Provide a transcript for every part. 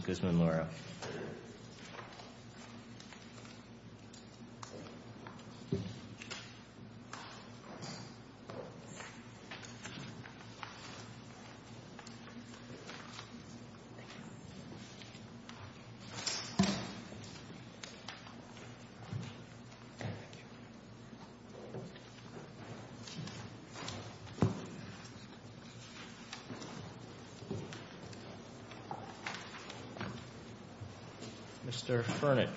V. Beltran-Leyva, Guzman Loera, Mr. Furnish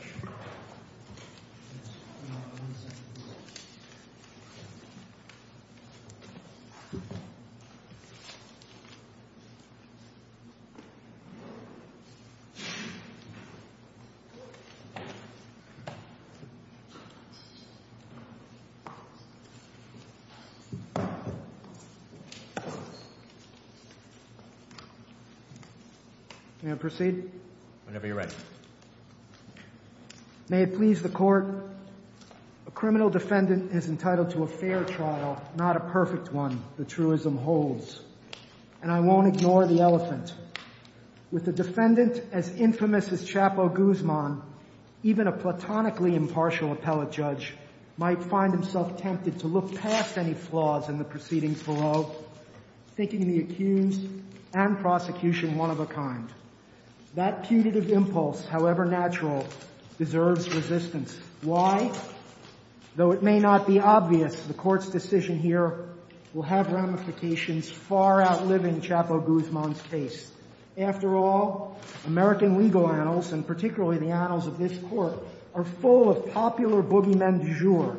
May I proceed? May it please the court, a criminal defendant is entitled to a fair trial, not a perfect one, the truism holds. And I won't ignore the elephant. With a defendant as infamous as Chapo Guzman, even a platonically impartial appellate judge might find himself tempted to look past any flaws in the proceedings below, thinking the accused and prosecution one of a kind. That putative impulse, however natural, deserves resistance. Why? Though it may not be obvious, the court's decision here will have ramifications far outliving Chapo Guzman's case. After all, American legal annals, and particularly the annals of this court, are full of popular boogeymen du jour.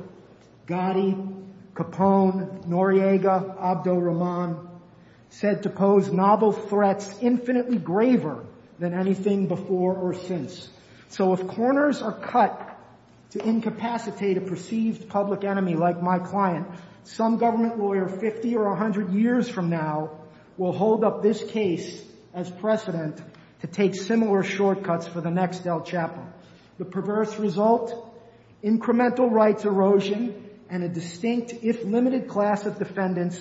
Gotti, Capone, Noriega, Abdel-Rahman, said to pose novel threats infinitely graver than anything before or since. So if corners are cut to incapacitate a perceived public enemy like my client, some government lawyer 50 or 100 years from now will hold up this case as precedent to take similar shortcuts for the next El Chapo. The perverse result? Incremental rights erosion and a distinct, if limited, class of defendants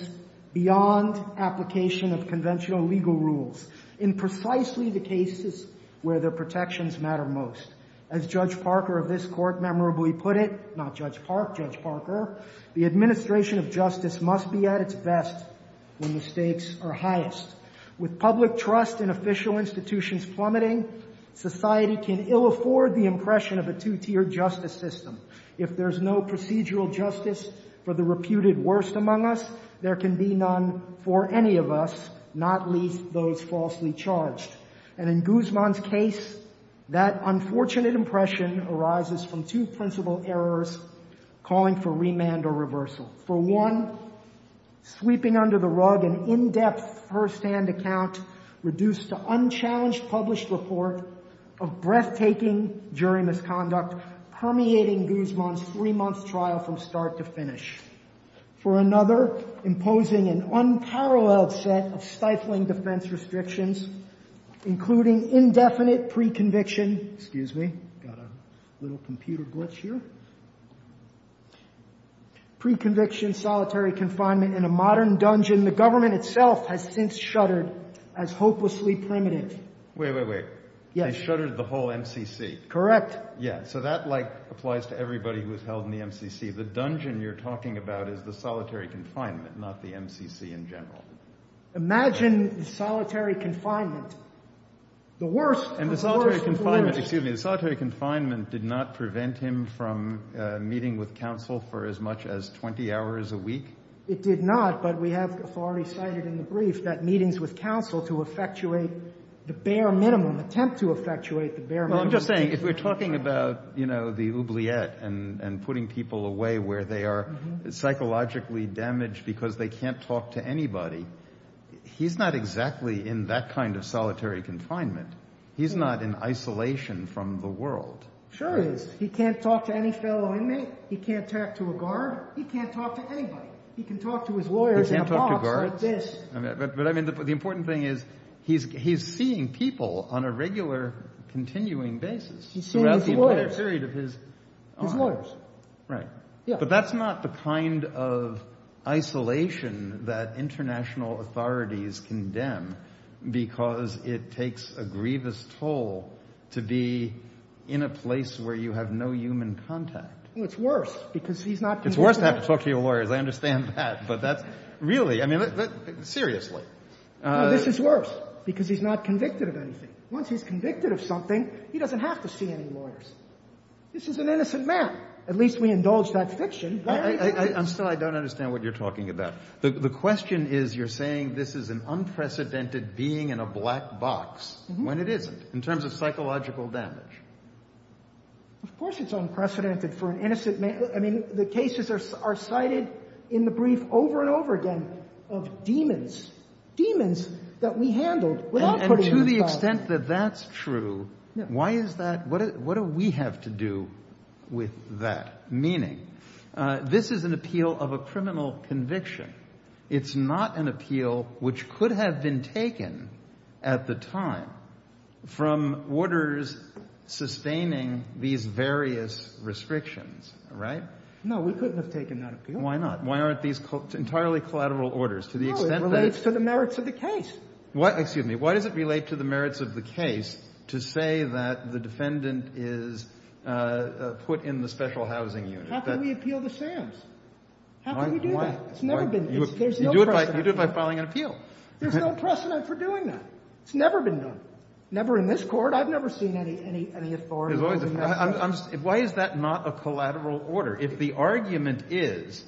beyond application of conventional legal rules in precisely the cases where their protections matter most. As Judge Parker of this court memorably put it, not Judge Park, Judge Parker, the administration of justice must be at its best when the stakes are highest. With public trust in official institutions plummeting, society can ill afford the impression of a two-tiered justice system. If there's no procedural justice for the reputed worst among us, there can be none for any of us, not least those falsely charged. And in Guzman's case, that unfortunate impression arises from two principal errors calling for remand or reversal. For one, sweeping under the rug an in-depth Herstand account reduced to unchallenged published report of breathtaking jury misconduct permeating Guzman's three-month trial from start to finish. For another, imposing an unparalleled set of stifling defense restrictions, including indefinite pre-conviction solitary confinement in a modern dungeon the government itself has since shuttered as hopelessly primitive. Wait, wait, wait. They shuttered the whole MCC. Correct. Yeah, so that like applies to everybody who is held in the MCC. The dungeon you're talking about is the solitary confinement, not the MCC in general. Imagine solitary confinement, the worst of the worst. And the solitary confinement, excuse me, the solitary confinement did not prevent him from meeting with counsel for as much as 20 hours a week? It did not, but we have already cited in the brief that meetings with counsel to effectuate the bare minimum, attempt to effectuate the bare minimum. Well, I'm just saying, if you're talking about, you know, the oubliette and putting people away where they are psychologically damaged because they can't talk to anybody, he's not exactly in that kind of solitary confinement. He's not in isolation from the world. Sure he is. He can't talk to any fellow inmate. He can't talk to a guard. He can't talk to anybody. He can talk to his lawyers and talk like this. But I mean, the important thing is he's he's seeing people on a regular continuing basis. He's seeing his lawyers. But that's not the kind of isolation that international authorities condemn because it takes a grievous toll to be in a place where you have no human contact. It's worse because he's not. I understand that. But that's really I mean, seriously, this is worse because he's not convicted of anything. Once he's convicted of something, he doesn't have to see any lawyers. This is an innocent man. At least we indulge that fiction. I'm sorry, I don't understand what you're talking about. The question is, you're saying this is an unprecedented being in a black box when it is in terms of psychological damage. Of course it's unprecedented for an innocent man. I mean, the cases are cited in the brief over and over again of demons, demons that we handled. And to the extent that that's true. Why is that? What do we have to do with that? Meaning this is an appeal of a criminal conviction. It's not an appeal which could have been taken at the time from orders sustaining these various restrictions. Right. No, we couldn't have taken that. Why not? Why aren't these entirely collateral orders to the extent that it's to the merits of the case? What excuse me? Why does it relate to the merits of the case to say that the defendant is put in the special housing unit? How can we appeal the sham? How can we do that? You do it by filing an appeal. There's no precedent for doing that. It's never been done. Never in this court. I've never seen any authority. Why is that not a collateral order? If the argument is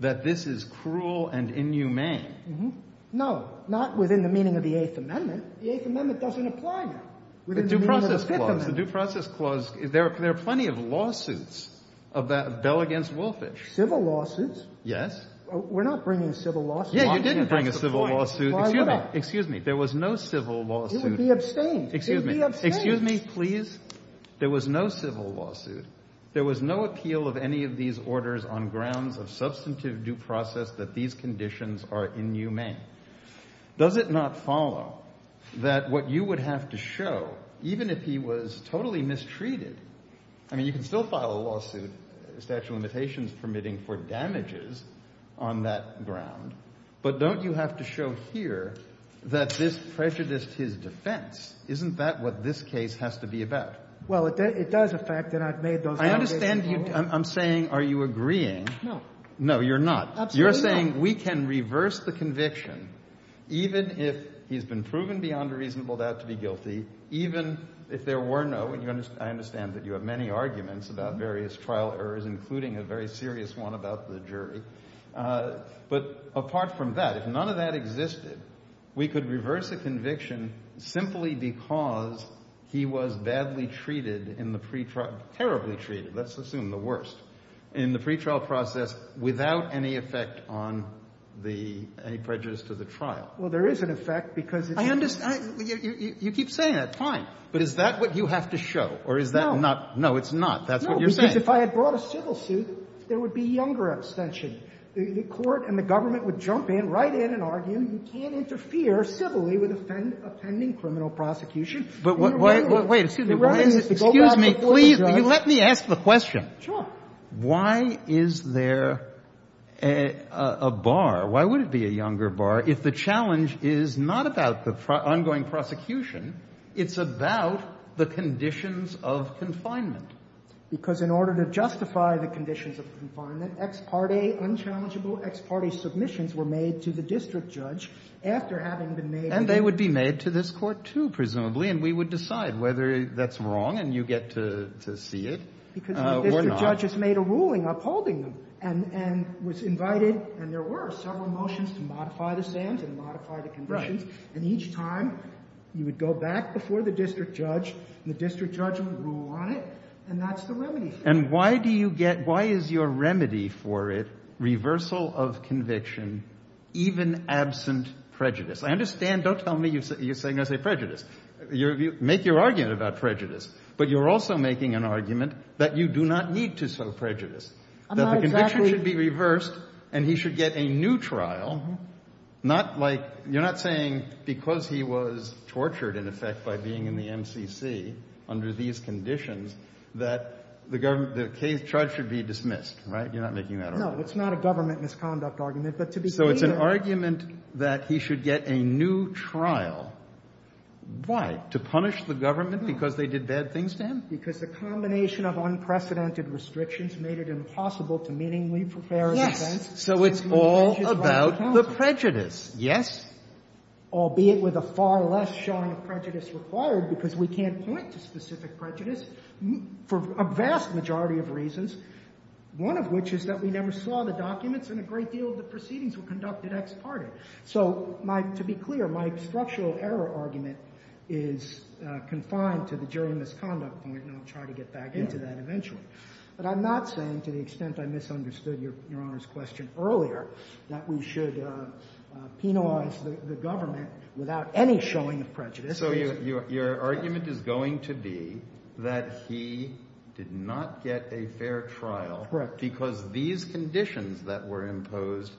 that this is cruel and inhumane. No, not within the meaning of the Eighth Amendment. The Eighth Amendment doesn't apply now. The Due Process Clause. There are plenty of lawsuits of that Bell against Wolfish. Civil lawsuits? Yes. We're not bringing civil lawsuits. Yeah, you didn't bring a civil lawsuit. Excuse me. There was no civil lawsuit. It would be obscene. It would be obscene. Excuse me, please. There was no civil lawsuit. There was no appeal of any of these orders on grounds of substantive due process that these conditions are inhumane. Does it not follow that what you would have to show, even if he was totally mistreated. I mean, you can still file a lawsuit, a statute of limitations permitting for damages on that ground. But don't you have to show here that this prejudiced his defense. Isn't that what this case has to be about? Well, it does affect it. I understand you. I'm saying, are you agreeing? No. No, you're not. You're saying we can reverse the conviction, even if he's been proven beyond a reasonable doubt to be guilty, even if there were no. I understand that you have many arguments about various trial errors, including a very serious one about the jury. But apart from that, if none of that existed, we could reverse the conviction simply because he was badly treated in the pretrial. Let's assume the worst in the pretrial process without any effect on the prejudice to the trial. Well, there is an effect because I understand you keep saying that time. But is that what you have to show or is that not? No, it's not. That's what you're saying. If I had brought a civil suit, there would be younger abstention. The court and the government would jump in right in and argue. You can't interfere civilly with a pending criminal prosecution. Excuse me. Please let me ask the question. Sure. Why is there a bar? Why would it be a younger bar if the challenge is not about the ongoing prosecution? It's about the conditions of confinement. Because in order to justify the conditions of confinement, unchallengeable ex parte submissions were made to the district judge after having been made. And they would be made to this court, too, presumably. And we would decide whether that's wrong. And you get to see it. Because the district judge has made a ruling upholding and was invited. And there were several motions to modify the stands and modify the conditions. And each time you would go back before the district judge. The district judge would rule on it. And that's the remedy. And why do you get why is your remedy for it? Reversal of conviction, even absent prejudice. I understand. Don't tell me you're saying that's a prejudice. Make your argument about prejudice. But you're also making an argument that you do not need to show prejudice. The conviction should be reversed and he should get a new trial. You're not saying because he was tortured, in effect, by being in the NCC under these conditions, that the charge should be dismissed, right? You're not making that argument. No, it's not a government misconduct argument. So it's an argument that he should get a new trial. Why? To punish the government because they did bad things to him? Because the combination of unprecedented restrictions made it impossible to meaningfully prepare a defense. So it's all about the prejudice, yes? Albeit with a far less showing of prejudice required because we can't point to specific prejudice for a vast majority of reasons. One of which is that we never saw the documents and a great deal of the proceedings were conducted ex parte. So to be clear, my structural error argument is confined to the jury misconduct point, and I'll try to get back into that eventually. But I'm not saying, to the extent I misunderstood Your Honor's question earlier, that we should penalize the government without any showing of prejudice. So your argument is going to be that he did not get a fair trial because these conditions that were imposed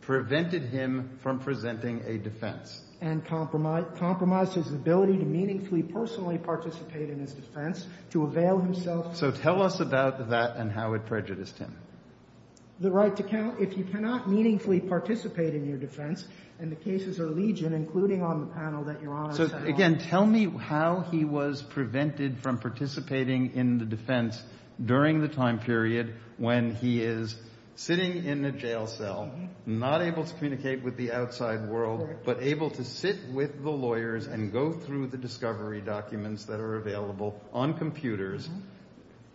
prevented him from presenting a defense. And compromised his ability to meaningfully personally participate in a defense to avail himself. So tell us about that and how it prejudiced him. The right to count, if you cannot meaningfully participate in your defense, and the cases are legion, including on the panel that Your Honor set up. So again, tell me how he was prevented from participating in the defense during the time period when he is sitting in a jail cell, not able to communicate with the outside world, but able to sit with the lawyers and go through the discovery documents that are available on computers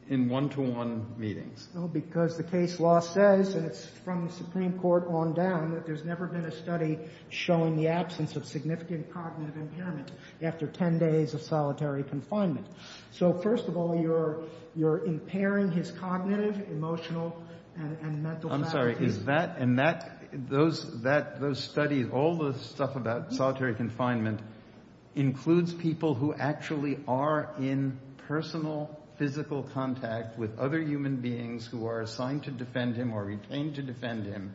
in one-to-one meetings. Well, because the case law says, and it's from the Supreme Court on down, that there's never been a study showing the absence of significant cognitive impairment after 10 days of solitary confinement. So first of all, you're impairing his cognitive, emotional, and mental faculties. And those studies, all the stuff about solitary confinement, includes people who actually are in personal, physical contact with other human beings who are assigned to defend him or retained to defend him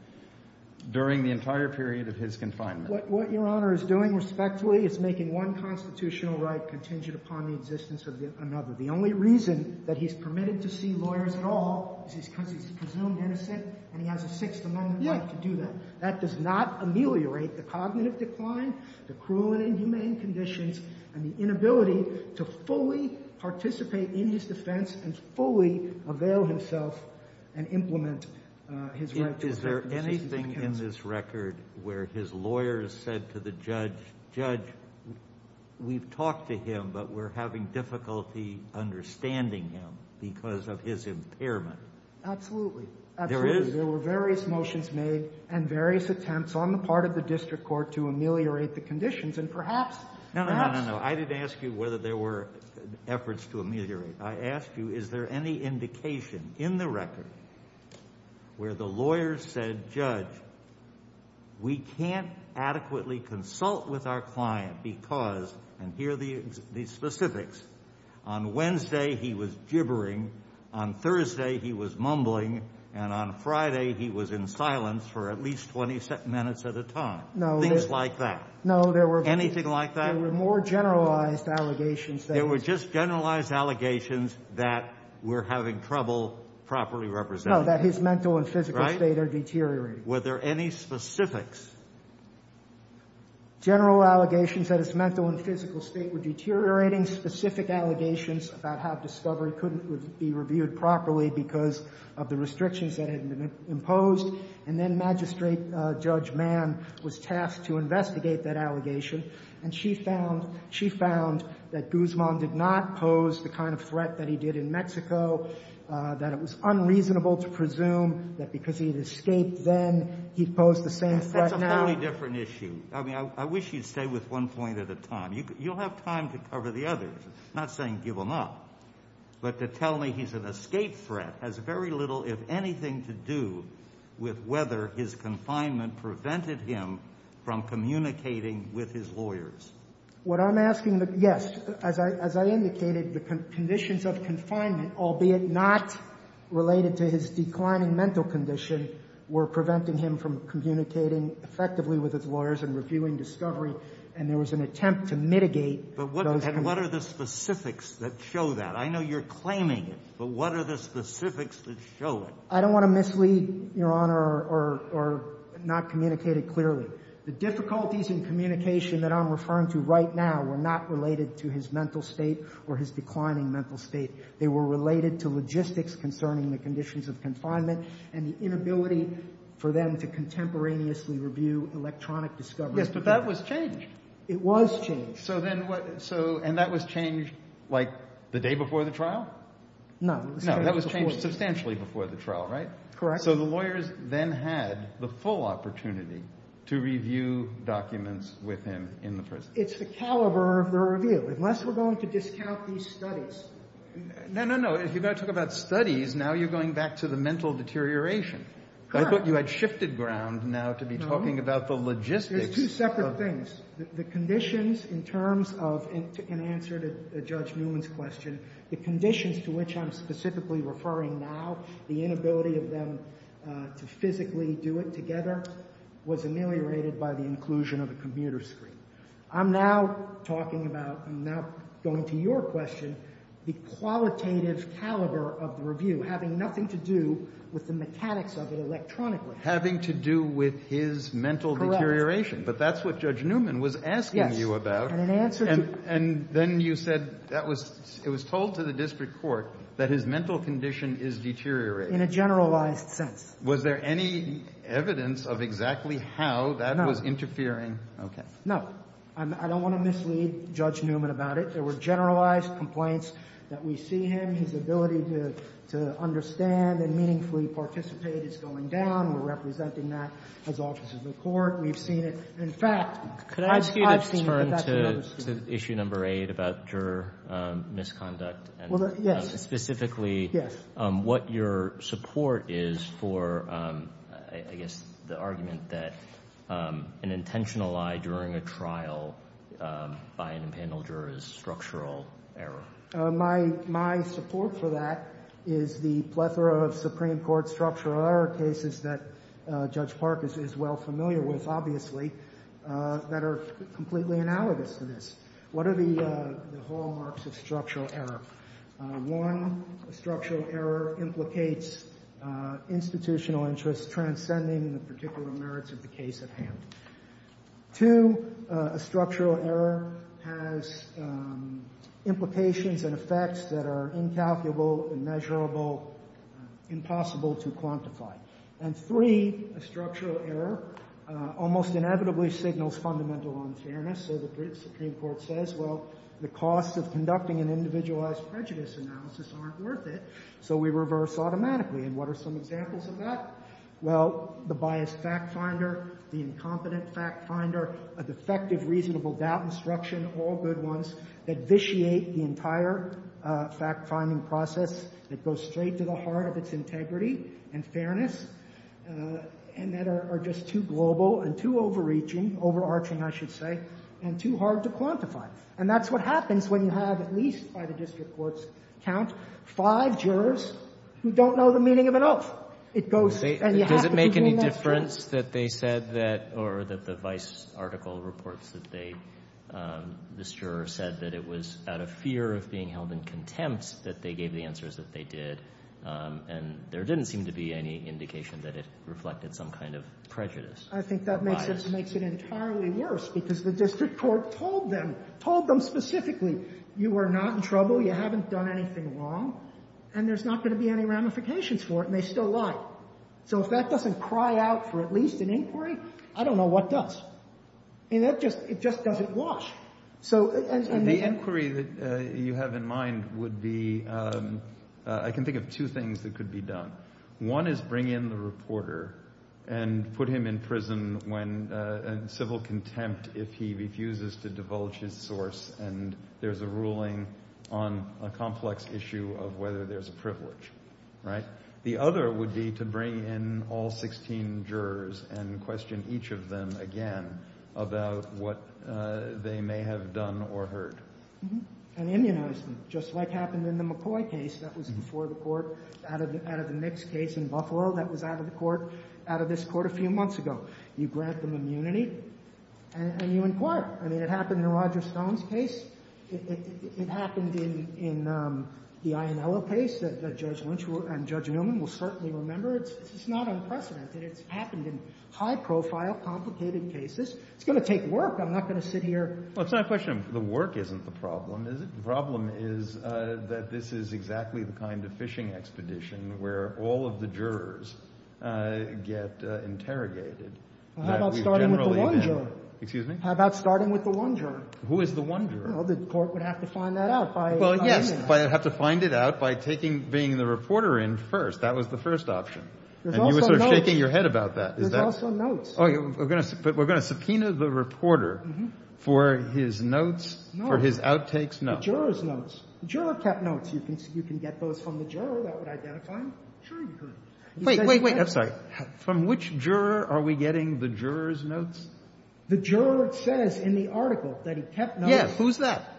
during the entire period of his confinement. What Your Honor is doing, respectfully, is making one constitutional right contingent upon the existence of another. The only reason that he's permitted to see lawyers at all is because he's presumed innocent, and he has a Sixth Amendment right to do that. That does not ameliorate the cognitive decline, the cruel and inhumane conditions, and the inability to fully participate in his defense and fully avail himself and implement his right to defend himself. But is there anything in this record where his lawyers said to the judge, judge, we've talked to him, but we're having difficulty understanding him because of his impairment? Absolutely. There is? There were various motions made and various attempts on the part of the district court to ameliorate the conditions. No, I didn't ask you whether there were efforts to ameliorate. I asked you is there any indication in the record where the lawyers said, judge, we can't adequately consult with our client because, and here are the specifics, on Wednesday he was gibbering, on Thursday he was mumbling, and on Friday he was in silence for at least 20 minutes at a time. Things like that. Anything like that? There were more generalized allegations. There were just generalized allegations that we're having trouble properly representing him. No, that his mental and physical state are deteriorating. Were there any specifics? General allegations that his mental and physical state were deteriorating. Specific allegations about how discovery couldn't be reviewed properly because of the restrictions that had been imposed. And then magistrate Judge Mann was tasked to investigate that allegation. And she found that Guzman did not pose the kind of threat that he did in Mexico, that it was unreasonable to presume that because he had escaped then, he posed the same threat now. That's a very different issue. I mean, I wish you'd stay with one point at a time. You'll have time to cover the others. Not saying give him up, but to tell me he's an escape threat has very little, if anything, to do with whether his confinement prevented him from communicating with his lawyers. What I'm asking, yes, as I indicated, the conditions of confinement, albeit not related to his declining mental condition, were preventing him from communicating effectively with his lawyers and reviewing discovery, and there was an attempt to mitigate those conditions. And what are the specifics that show that? I know you're claiming it, but what are the specifics that show it? I don't want to mislead, Your Honor, or not communicate it clearly. The difficulties in communication that I'm referring to right now were not related to his mental state or his declining mental state. They were related to logistics concerning the conditions of confinement and the inability for them to contemporaneously review electronic discovery. Yes, but that was changed. It was changed. And that was changed the day before the trial? No. No, that was changed substantially before the trial, right? Correct. So the lawyers then had the full opportunity to review documents with him in the prison. It's the caliber of the review. Unless we're going to discount these studies. No, no, no. If you're going to talk about studies, now you're going back to the mental deterioration. Correct. I thought you had shifted ground now to be talking about the logistics. They're two separate things. The conditions in terms of, in answer to Judge Newman's question, the conditions to which I'm specifically referring now, the inability of them to physically do it together, was ameliorated by the inclusion of a computer screen. I'm now talking about, I'm now going to your question, the qualitative caliber of the review having nothing to do with the mechanics of it electronically. Having to do with his mental deterioration. Correct. But that's what Judge Newman was asking you about. Yes. And then you said that was, it was told to the district court that his mental condition is deteriorating. In a generalized sense. Was there any evidence of exactly how that was interfering? No. Okay. No. I don't want to mislead Judge Newman about it. There were generalized complaints that we see him, his ability to understand and meaningfully participate is going down. We're representing that as officers of the court. We've seen it. In fact, I've seen it. Could I ask you to turn to issue number eight about juror misconduct? Yes. Specifically, what your support is for, I guess, the argument that an intentional lie during a trial by an impenitent juror is structural error. My support for that is the plethora of Supreme Court structural error cases that Judge Park is well familiar with, obviously, that are completely analogous to this. What are the hallmarks of structural error? One, structural error implicates institutional interests transcending the particular merits of the case at hand. Two, a structural error has implications and effects that are incalculable, immeasurable, impossible to quantify. And three, a structural error almost inevitably signals fundamental unfairness. So the Supreme Court says, well, the cost of conducting an individualized prejudice analysis aren't worth it, so we reverse automatically. And what are some examples of that? Well, the biased fact finder, the incompetent fact finder, a defective reasonable doubt instruction, all good ones that vitiate the entire fact-finding process, that go straight to the heart of its integrity and fairness, and that are just too global and too overreaching, overarching, I should say, and too hard to quantify. And that's what happens when you have at least, by the district court's count, five jurors who don't know the meaning of it all. Did it make any difference that they said that, or that the vice article reports that they, the juror said that it was out of fear of being held in contempt that they gave the answers that they did, and there didn't seem to be any indication that it reflected some kind of prejudice? I think that makes it entirely worse, because the district court told them, told them specifically, you are not in trouble, you haven't done anything wrong, and there's not going to be any ramifications for it, and they still lied. So if that doesn't cry out for at least an inquiry, I don't know what does. It just doesn't wash. And the inquiry that you have in mind would be, I can think of two things that could be done. One is bring in the reporter and put him in prison and civil contempt if he refuses to divulge his source and there's a ruling on a complex issue of whether there's a privilege. The other would be to bring in all 16 jurors and question each of them again about what they may have done or heard. And immunize them, just like happened in the McCoy case that was before the court, out of the next case in Buffalo that was out of the court, out of this court a few months ago. You grant them immunity, and you inquire. I mean, it happened in Roger Stone's case. It happened in the Ionella case that Judge Lynch and Judge Newman will certainly remember. It's not unprecedented. It's happened in high-profile, complicated cases. It's going to take work. I'm not going to sit here. Well, it's not a question of the work isn't the problem. The problem is that this is exactly the kind of fishing expedition where all of the jurors get interrogated. How about starting with the one juror? Excuse me? How about starting with the one juror? Who is the one juror? Well, the court would have to find that out. Well, yes, but it would have to find it out by being the reporter in first. That was the first option. And you were sort of shaking your head about that. There's also notes. But we're going to subpoena the reporter for his notes, for his outtakes notes. The juror's notes. The juror kept notes. You can get those from the juror. That would identify him. Wait, wait, wait. I'm sorry. From which juror are we getting the juror's notes? The juror says in the article that he kept notes. Yes. Who's that?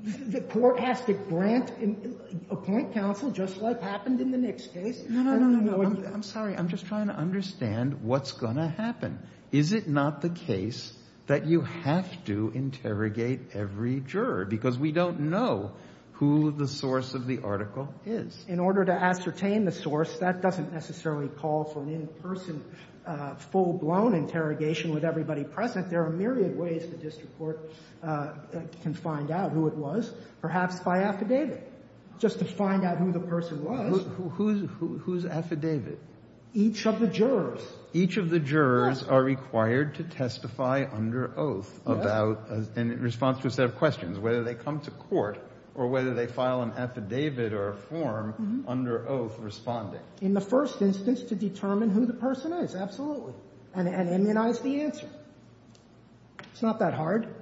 The court has to grant, appoint counsel, just like happened in the Nix case. No, no, no, no. I'm sorry. I'm just trying to understand what's going to happen. Is it not the case that you have to interrogate every juror? Because we don't know who the source of the article is. In order to ascertain the source, that doesn't necessarily call for an in-person, full-blown interrogation with everybody present. There are myriad ways that this court can find out who it was, perhaps by affidavit, just to find out who the person was. Who's affidavit? Each of the jurors. Each of the jurors are required to testify under oath in response to a set of questions, whether they come to court or whether they file an affidavit or a form under oath responding. In the first instance, to determine who the person is. Absolutely. And immunize the answer. It's not that hard.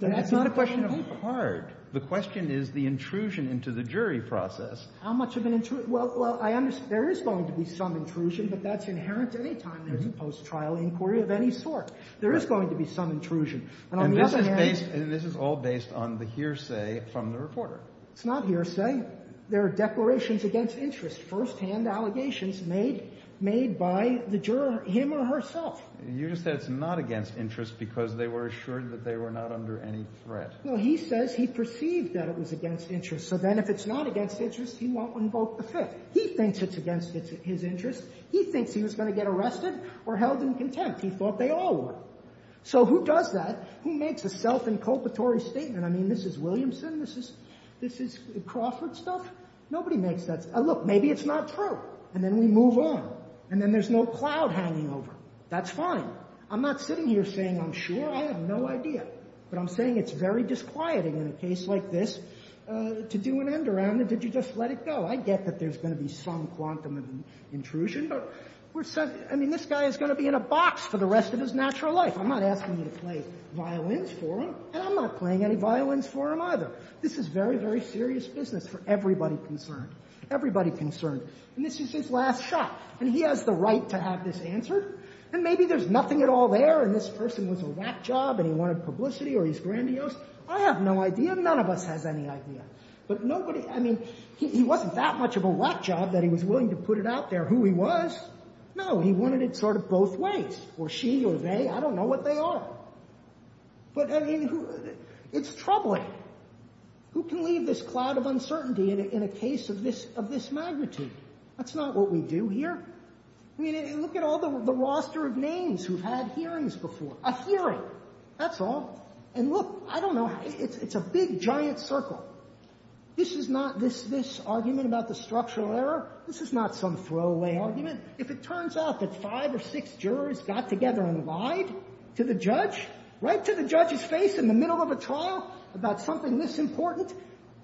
That's not the question of hard. The question is the intrusion into the jury process. How much of an intrusion? Well, I understand there is going to be some intrusion, but that's inherent any time there's a post-trial inquiry of any sort. There is going to be some intrusion. And this is all based on the hearsay from the reporter. It's not hearsay. There are declarations against interest, first-hand allegations made by the juror, him or herself. You just said it's not against interest because they were assured that they were not under any threat. No, he says he perceived that it was against interest. So then if it's not against interest, he won't invoke the Fifth. He thinks it's against his interest. He thinks he was going to get arrested or held in contempt. He thought they all were. So who does that? Who makes a self-inculpatory statement? I mean, Mrs. Williamson? This is Crawford stuff? Nobody makes that. Look, maybe it's not true. And then we move on. And then there's no cloud hanging over. That's fine. I'm not sitting here saying I'm sure. I have no idea. But I'm saying it's very disquieting in a case like this to do an end-around. Did you just let it go? I get that there's going to be some quantum of intrusion. I mean, this guy is going to be in a box for the rest of his natural life. I'm not asking you to play violins for him. And I'm not playing any violins for him either. This is very, very serious business for everybody concerned. Everybody concerned. This is his last shot. And he has the right to have this answered. And maybe there's nothing at all there. And this person was a whack job, and he wanted publicity, or he's grandiose. I have no idea. None of us have any idea. But nobody, I mean, he wasn't that much of a whack job that he was willing to put it out there who he was. No, he wanted it sort of both ways. Or she or they. I don't know what they are. But, I mean, it's troubling. Who can leave this cloud of uncertainty in a case of this magnitude? That's not what we do here. I mean, look at all the roster of names who've had hearings before. A hearing. That's all. And look, I don't know. It's a big, giant circle. This is not this argument about the structural error. This is not some throwaway argument. If it turns out that five or six jurors got together and lied to the judge, right to the judge's face in the middle of a trial about something this important,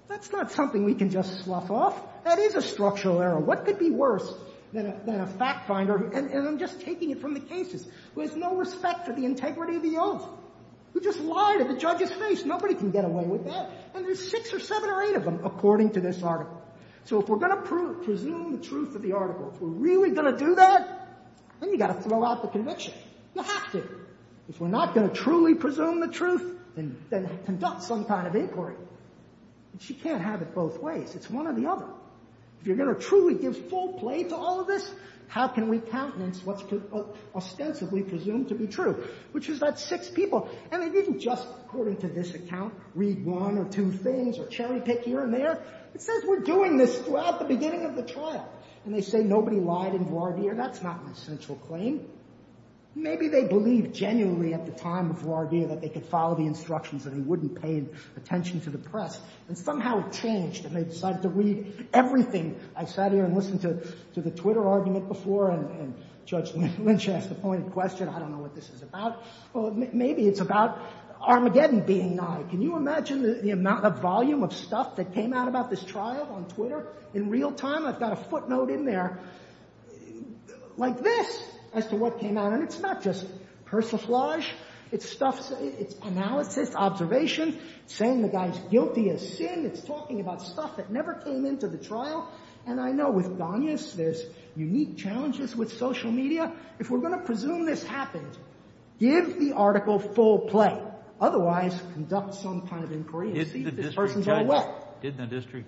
that's not something we can just slough off. That is a structural error. What could be worse than a fact finder, and I'm just taking it from the cases, who has no respect for the integrity of the oath, who just lied to the judge's face. Nobody can get away with that. And there's six or seven or eight of them, according to this article. So if we're going to presume the truth of the article, if we're really going to do that, then you've got to throw out the conviction. You have to. If we're not going to truly presume the truth and conduct some kind of inquiry, you can't have it both ways. It's one or the other. If you're going to truly give full play to all of this, how can we countenance what's ostensibly presumed to be true, which is that six people, and they didn't just, according to this account, read one or two things or cherry pick here and there. It says we're doing this throughout the beginning of the trial. And they say nobody lied in voir dire. That's not an essential claim. Maybe they believed genuinely at the time of voir dire that they could follow the instructions and they wouldn't pay attention to the press. And somehow it changed, and they decided to read everything. I sat here and listened to the Twitter argument before, and Judge Lynch asked a pointed question. I don't know what this is about. Well, maybe it's about Armageddon being nigh. Can you imagine the amount of volume of stuff that came out about this trial on Twitter? In real time, I've got a footnote in there like this as to what came out. And it's not just persiflage. It's analysis, observation, saying the guy's guilty of sin. It's talking about stuff that never came into the trial. And I know with Donius, there's unique challenges with social media. If we're going to presume this happened, give the article full play. Otherwise, conduct some kind of inquiry. Didn't the district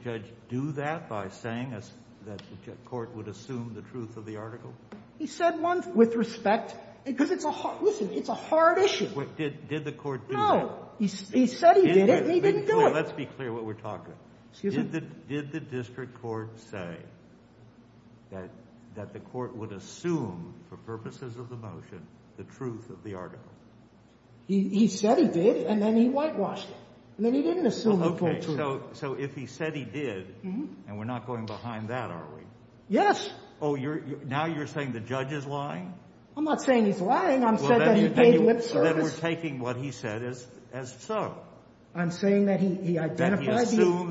judge do that by saying that the court would assume the truth of the article? He said once with respect. Listen, it's a hard issue. Did the court do that? No. He said he did it, and he didn't do it. Let's be clear what we're talking about. Did the district court say that the court would assume for purposes of the motion the truth of the article? He said he did, and then he blackwashed it. So if he said he did, and we're not going behind that, are we? Yes. Oh, now you're saying the judge is lying? I'm not saying he's lying. I'm saying that he's taking what he said as so. I'm saying that he identified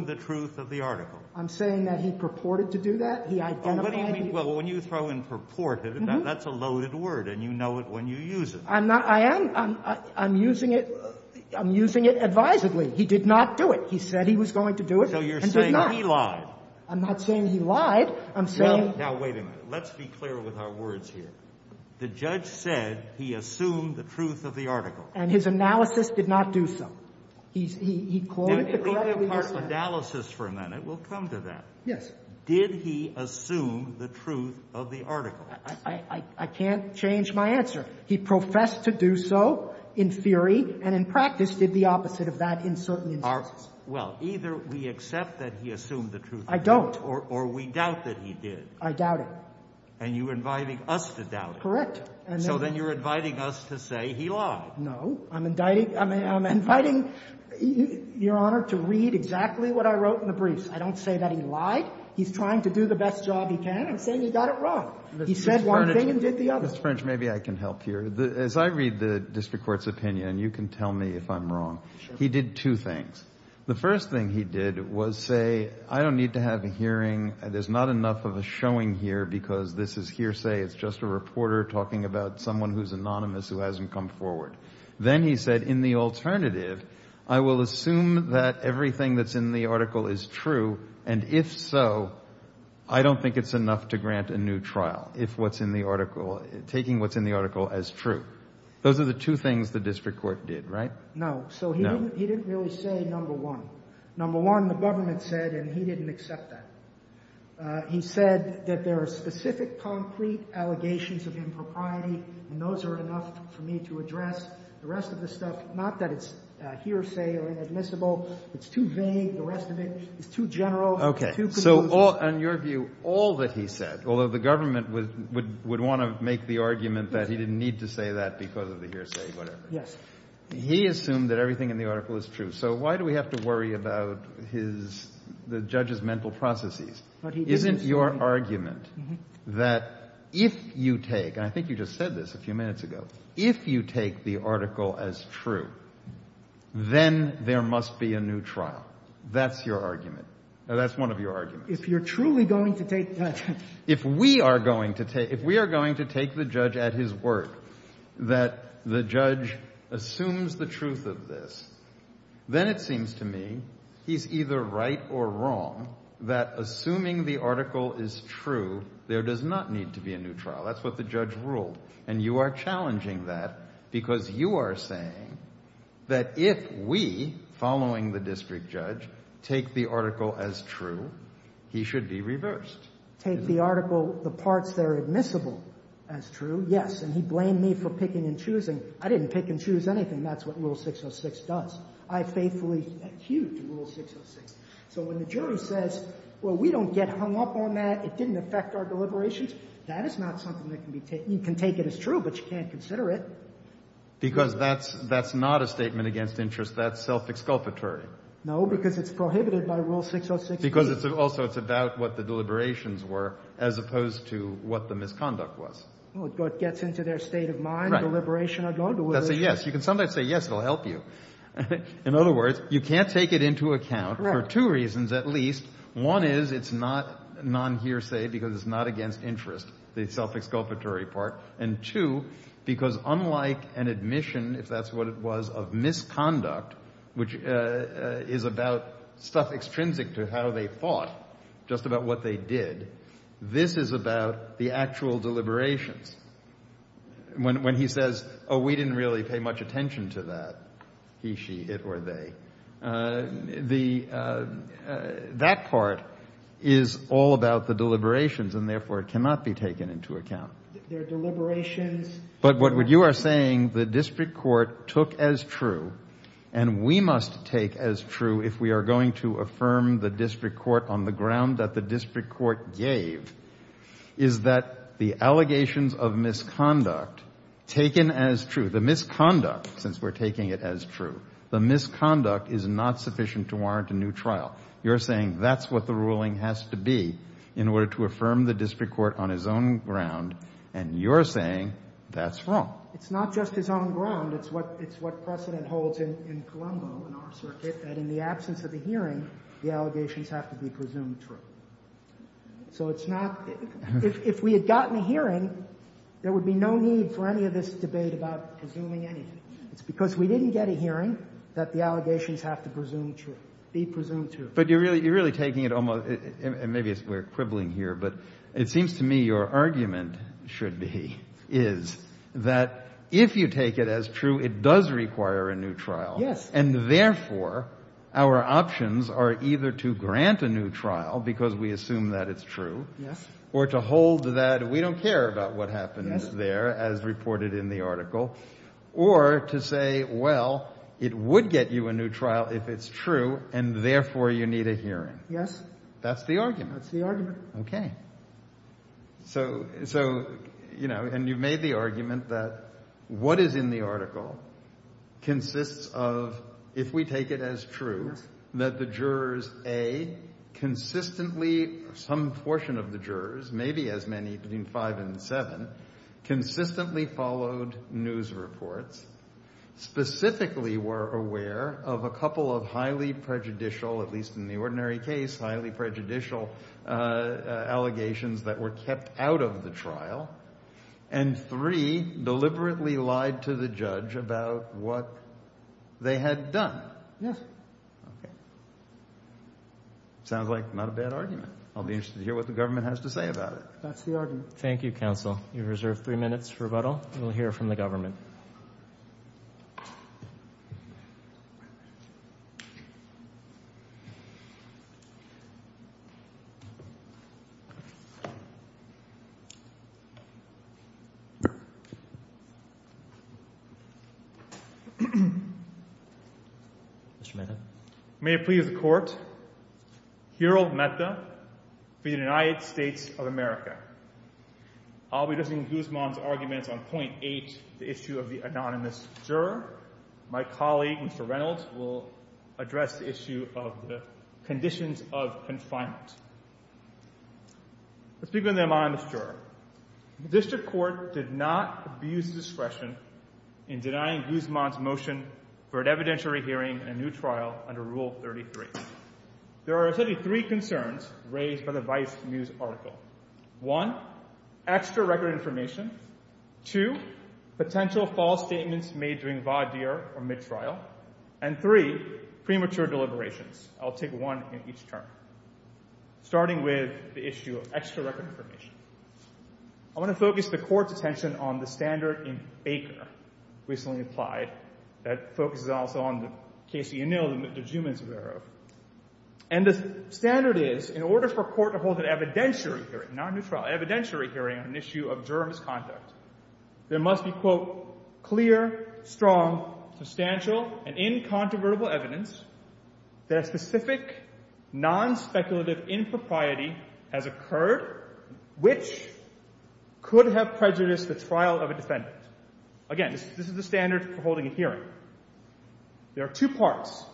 the truth of the article. I'm saying that he purported to do that. What do you mean? Well, when you throw in purport, that's a loaded word, and you know it when you use it. I'm using it advisedly. He did not do it. He said he was going to do it and did not. So you're saying he lied. I'm not saying he lied. I'm saying. Now, wait a minute. Let's be clear with our words here. The judge said he assumed the truth of the article. And his analysis did not do so. Let's go to part analysis for a minute. We'll come to that. Yes. Did he assume the truth of the article? I can't change my answer. He professed to do so in theory and in practice did the opposite of that in certain instances. Well, either we accept that he assumed the truth of the article. I don't. Or we doubt that he did. I doubt it. And you're inviting us to doubt it. Correct. So then you're inviting us to say he lied. No. I'm inviting your Honor to read exactly what I wrote in the briefs. I don't say that he lied. He's trying to do the best job he can. I'm saying he got it wrong. He said one thing and did the other. Mr. French, maybe I can help here. As I read the district court's opinion, you can tell me if I'm wrong, he did two things. The first thing he did was say, I don't need to have a hearing. There's not enough of a showing here because this is hearsay. It's just a reporter talking about someone who's anonymous who hasn't come forward. Then he said, in the alternative, I will assume that everything that's in the article is true. And if so, I don't think it's enough to grant a new trial, taking what's in the article as true. Those are the two things the district court did, right? No. So he didn't really say number one. Number one, the government said, and he didn't accept that. He said that there are specific, concrete allegations of impropriety, and those are enough for me to address. The rest of the stuff, not that it's hearsay or inadmissible, it's too vague. The rest of it is too general. Okay. So on your view, all that he said, although the government would want to make the argument that he didn't need to say that because of the hearsay, whatever. Yes. He assumed that everything in the article is true. So why do we have to worry about the judge's mental processes? Isn't your argument that if you take, and I think you just said this a few minutes ago, if you take the article as true, then there must be a new trial? That's your argument. That's one of your arguments. If you're truly going to take that. that the judge assumes the truth of this, then it seems to me he's either right or wrong that assuming the article is true, there does not need to be a new trial. That's what the judge ruled, and you are challenging that because you are saying that if we, following the district judge, take the article as true, he should be reversed. Take the article, the parts that are admissible as true, yes. And he blamed me for picking and choosing. I didn't pick and choose anything. That's what Rule 606 does. I faithfully adhere to Rule 606. So when the jury says, well, we don't get hung up on that, it didn't affect our deliberations, that is not something that can be taken. You can take it as true, but you can't consider it. Because that's not a statement against interest. That's self-exculpatory. No, because it's prohibited by Rule 606. Because also it's about what the deliberations were as opposed to what the misconduct was. Well, it gets into their state of mind, deliberation or no deliberation. Yes, you can sometimes say yes, it'll help you. In other words, you can't take it into account for two reasons at least. One is it's not non-hearsay because it's not against interest, the self-exculpatory part. And two, because unlike an admission, if that's what it was, of misconduct, which is about stuff extrinsic to how they fought, just about what they did, this is about the actual deliberations. When he says, oh, we didn't really pay much attention to that, he, she, it, or they, that part is all about the deliberations and therefore cannot be taken into account. But what you are saying the district court took as true, and we must take as true if we are going to affirm the district court on the ground that the district court gave, is that the allegations of misconduct taken as true, the misconduct, since we're taking it as true, the misconduct is not sufficient to warrant a new trial. You're saying that's what the ruling has to be in order to affirm the district court on his own ground, and you're saying that's wrong. It's what precedent holds in Colombo, in our circuit, that in the absence of a hearing, the allegations have to be presumed true. So it's not, if we had gotten a hearing, there would be no need for any of this debate about presuming anything. It's because we didn't get a hearing that the allegations have to be presumed true. But you're really, you're really taking it almost, and maybe we're quibbling here, but it seems to me your argument should be, is that if you take it as true, it does require a new trial. And therefore, our options are either to grant a new trial, because we assume that it's true, or to hold that we don't care about what happens there, as reported in the article, or to say, well, it would get you a new trial if it's true, and therefore you need a hearing. That's the argument. Okay. So, you know, and you made the argument that what is in the article consists of, if we take it as true, that the jurors A, consistently, some portion of the jurors, maybe as many, between five and seven, consistently followed news reports, specifically were aware of a couple of highly prejudicial, at least in the ordinary case, highly prejudicial allegations that were kept out of the trial, and three, deliberately lied to the judge about what they had done. Yes. Okay. Sounds like not a bad argument. I'll be interested to hear what the government has to say about it. That's the argument. Thank you, counsel. You're reserved three minutes for rebuttal. We'll hear from the government. Mr. Mehta. May it please the court. Harold Mehta for the United States of America. I'll be listening to Guzman's argument on point eight, the issue of the anonymous juror. My colleague, Mr. Reynolds, will address the issue of the conditions of confinement. Let's begin with the anonymous juror. The district court did not abuse discretion in denying Guzman's motion for an evidentiary hearing in a new trial under Rule 33. There are essentially three concerns raised by the Vice News article. One, extra record information. Two, potential false statements made during VADIR or mid-trial. And three, premature deliberations. I'll take one at each turn. Starting with the issue of extra record information. I want to focus the court's attention on the standard in VADIR recently applied. That focuses also on the case of Yanil and Mr. Guzman's error. And the standard is, in order for a court to hold an evidentiary hearing, not a new trial, an evidentiary hearing on an issue of juror misconduct, there must be, quote, clear, strong, substantial, and incontrovertible evidence that a specific, non-speculative impropriety has occurred, which could have prejudiced the trial of a defendant. Again, this is the standard for holding a hearing. There are two parts.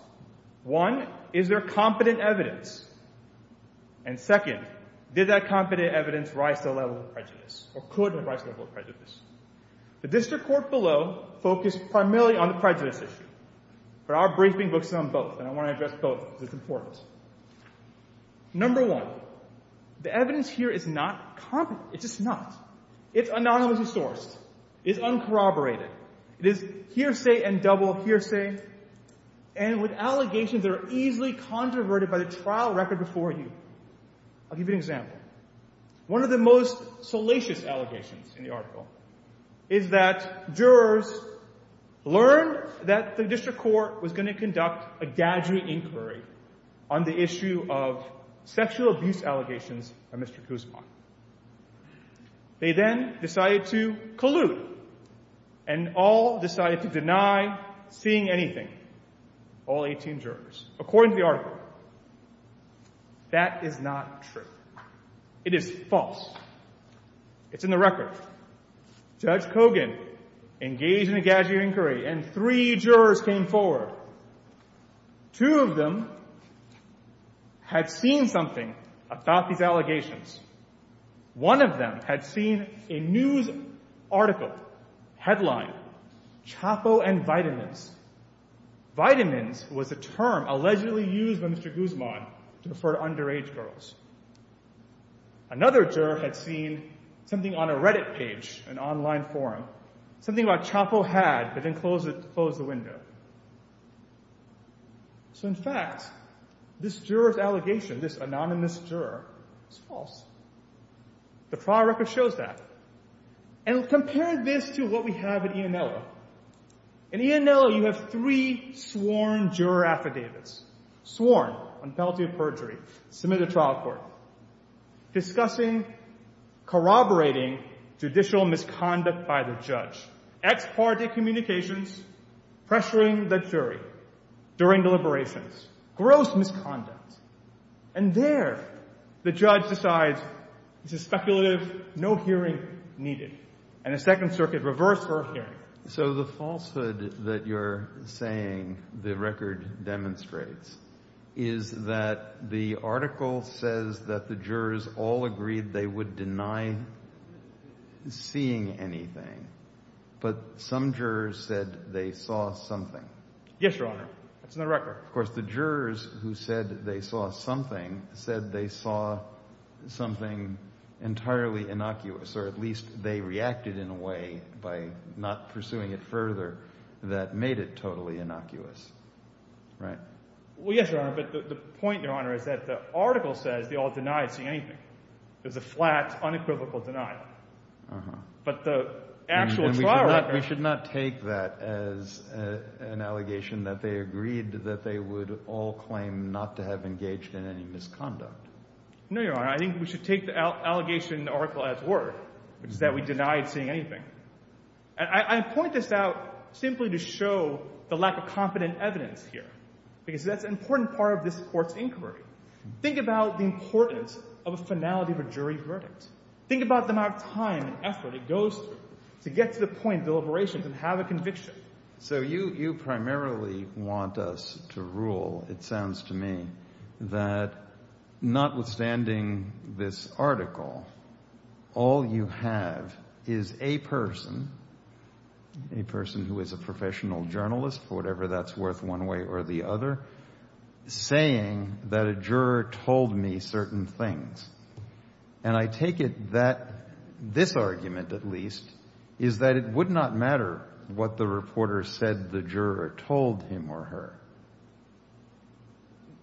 One, is there competent evidence? And second, did that competent evidence rise to the level of prejudice or could have risen to the level of prejudice? The district court below focused primarily on the prejudice issue. But our briefing looks at them both. And I want to address both with importance. Number one, the evidence here is not competent. It's just not. It's anonymously sourced. It's uncorroborated. It's hearsay and double hearsay. And with allegations that are easily controverted by the trial record before you. I'll give you an example. One of the most salacious allegations in the article is that jurors learned that the district court was going to conduct a dadgery inquiry on the issue of sexual abuse allegations of Mr. Kuzma. They then decided to collude and all decided to deny seeing anything, all 18 jurors, according to the article. That is not true. It is false. It's in the record. Judge Kogan engaged in a dadgery inquiry and three jurors came forward. Two of them had seen something about these allegations. One of them had seen a news article, headline, CHAPO and vitamins. Vitamins was a term allegedly used by Mr. Kuzma to refer to underage girls. Another juror had seen something on a Reddit page, an online forum, something about CHAPO hats that had closed the window. So, in fact, this juror's allegation, this anonymous juror, is false. The trial record shows that. And compare this to what we have at EMLO. In EMLO, you have three sworn juror affidavits. Sworn on penalty of perjury, submitted to trial court. Discussing, corroborating judicial misconduct by the judge. Ex parte communications, pressuring the jury during deliberations. Gross misconduct. And there, the judge decides, this is speculative, no hearing needed. So the falsehood that you're saying the record demonstrates is that the article says that the jurors all agreed they would deny seeing anything. But some jurors said they saw something. Yes, Your Honor. That's in the record. Of course, the jurors who said they saw something said they saw something entirely innocuous. Or at least they reacted in a way, by not pursuing it further, that made it totally innocuous. Right? Well, yes, Your Honor. But the point, Your Honor, is that the article says they all denied seeing anything. There's a flat, unequivocal denial. Uh-huh. But the actual trial record... We should not take that as an allegation that they agreed that they would all claim not to have engaged in any misconduct. No, Your Honor. I think we should take the allegation in the article as word, that we denied seeing anything. I point this out simply to show the lack of confident evidence here. Because that's an important part of this court's inquiry. Think about the importance of a finality for jury verdicts. Think about the amount of time and effort it goes through. To get to the point of deliberation and have a conviction. So you primarily want us to rule, it sounds to me, that notwithstanding this article, all you have is a person, a person who is a professional journalist, for whatever that's worth one way or the other, saying that a juror told me certain things. And I take it that this argument, at least, is that it would not matter what the reporter said the juror told him or her.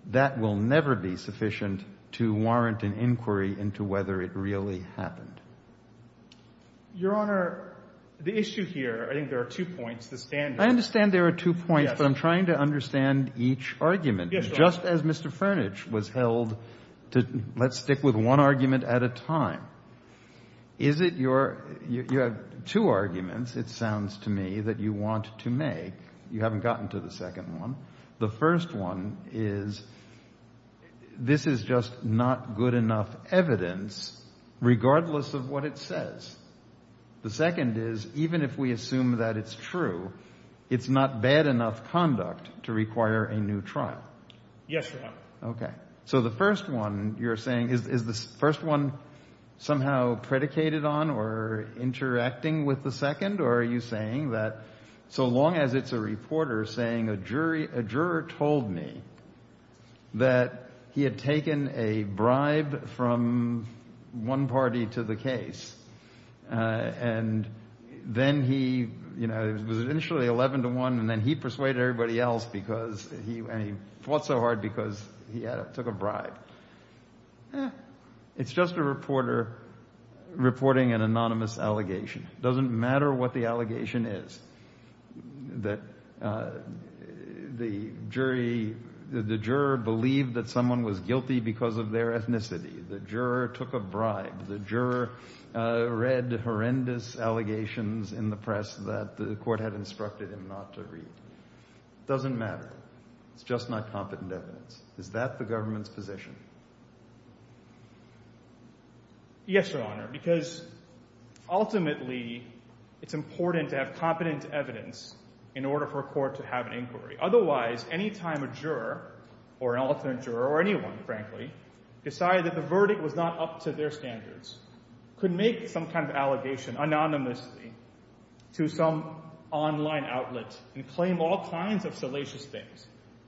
That will never be sufficient to warrant an inquiry into whether it really happened. Your Honor, the issues here, I think there are two points to stand on. I understand there are two points, but I'm trying to understand each argument. Just as Mr. Furnish was held to, let's stick with one argument at a time. Is it your, you have two arguments, it sounds to me, that you want to make. You haven't gotten to the second one. The first one is, this is just not good enough evidence, regardless of what it says. The second is, even if we assume that it's true, it's not bad enough conduct to require a new trial. Yes, Your Honor. Okay. So the first one, you're saying, is the first one somehow predicated on or interacting with the second? Or are you saying that so long as it's a reporter saying a juror told me that he had taken a bribe from one party to the case, and then he was initially 11 to 1, and then he persuaded everybody else, and he fought so hard because he took a bribe. It's just a reporter reporting an anonymous allegation. It doesn't matter what the allegation is. The jury, the juror believed that someone was guilty because of their ethnicity. The juror took a bribe. The juror read horrendous allegations in the press that the court had instructed him not to read. It doesn't matter. It's just not competent evidence. Is that the government's position? Yes, Your Honor, because ultimately, it's important to have competent evidence in order for a court to have an inquiry. Otherwise, any time a juror, or an elephant juror, or anyone, frankly, decided that the verdict was not up to their standards, could make some kind of allegation anonymously to some online outlet and claim all kinds of salacious things.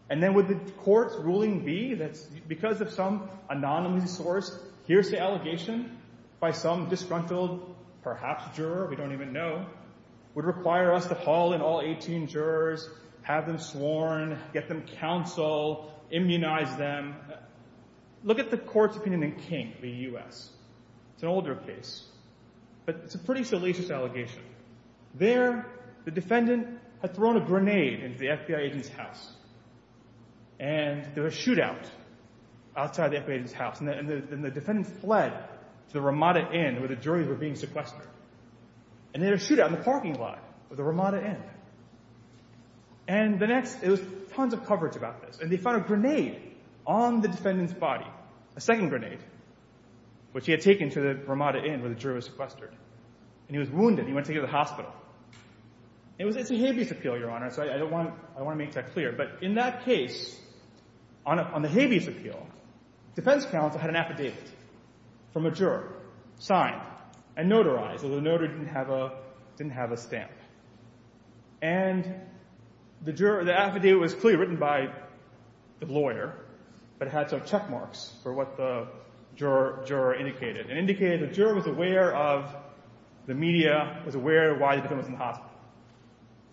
And then would the court's ruling be that because of some anonymous source, here's the allegation by some disgruntled perhaps juror, we don't even know, would require us to haul in all 18 jurors, have them sworn, get them counsel, immunize them. Look at the court's opinion in King v. U.S. It's an older case, but it's a pretty salacious allegation. There, the defendant had thrown a grenade into the FBI agent's house, and there were shootouts outside the FBI agent's house, and the defendant fled to the Ramada Inn where the jurors were being sequestered. And there was a shootout in the parking lot of the Ramada Inn. And the next, there was tons of coverage about this. And they found a grenade on the defendant's body, a second grenade, which he had taken to the Ramada Inn where the jurors were being sequestered. And he was wounded, and he went to the hospital. It was a habeas appeal, Your Honor, so I want to make that clear. But in that case, on the habeas appeal, defense counsel had an affidavit from a juror, signed and notarized, although the notary didn't have a stamp. And the affidavit was clearly written by the lawyer, but it had to have check marks for what the juror indicated. It indicated the juror was aware of the media, was aware of why he was coming from the hospital.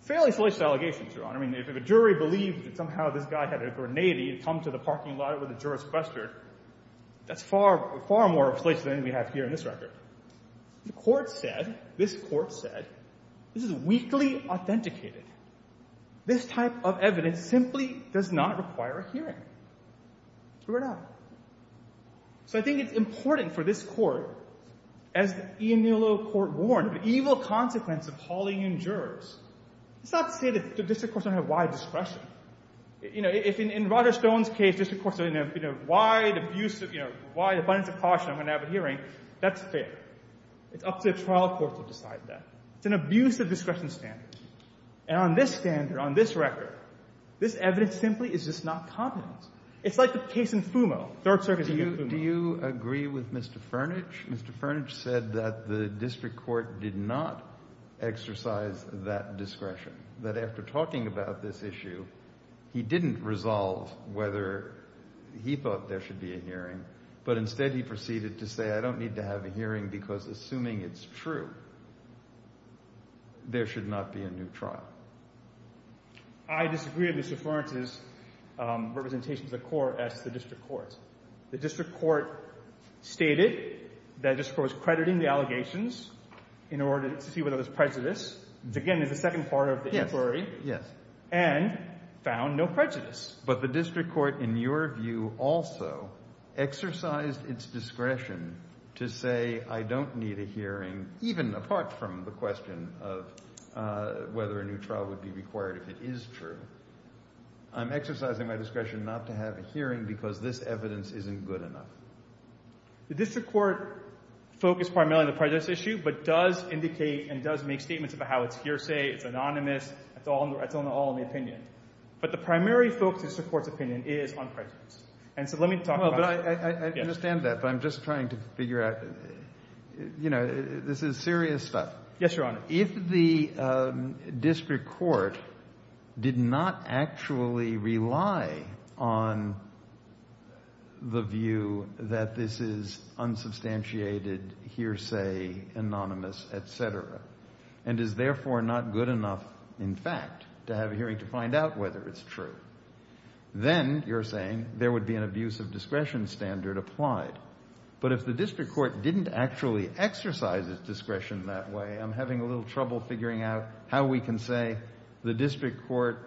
Fairly salacious allegations, Your Honor. I mean, if a jury believed somehow this guy had a grenade, he had come to the parking lot where the jurors were sequestered, that's far more of a place than we have here in this record. The court said, this court said, this is weakly authenticated. This type of evidence simply does not require a hearing. So we're done. So I think it's important for this court, as Ian Nealow's court warned, the evil consequence of hauling in jurors, it's not to say that the district courts don't have wide discretion. In Roger Stone's case, district courts have a wide abuse of, wide abiding precaution when they have a hearing. That's fair. It's up to the trial court to decide that. It's an abuse of discretion standards. And on this standard, on this record, this evidence simply is just not competent. It's like the case in Fumo, third circuit case in Fumo. Do you agree with Mr. Furnish? Mr. Furnish said that the district court did not exercise that discretion, that after talking about this issue, he didn't resolve whether he thought there should be a hearing, but instead he proceeded to say, I don't need to have a hearing because assuming it's true, there should not be a new trial. I disagree with Mr. Furnish's representation of the court as the district court. The district court stated that this court was crediting the allegations in order to see whether it was prejudiced. Again, in the second part of the inquiry. And found no prejudice. But the district court, in your view also, exercised its discretion to say, I don't need a hearing, even apart from the question of whether a new trial would be required if it is true. I'm exercising my discretion not to have a hearing because this evidence isn't good enough. The district court focused primarily on the prejudice issue, but does indicate and does make statements about how it's hearsay, it's anonymous, it's all in the opinion. But the primary focus of the court's opinion is on prejudice. And so let me talk about that. I understand that, but I'm just trying to figure out, you know, this is serious stuff. Yes, Your Honor. If the district court did not actually rely on the view that this is true, then you're saying there would be an abuse of discretion standard applied. But if the district court didn't actually exercise its discretion that way, I'm having a little trouble figuring out how we can say the district court's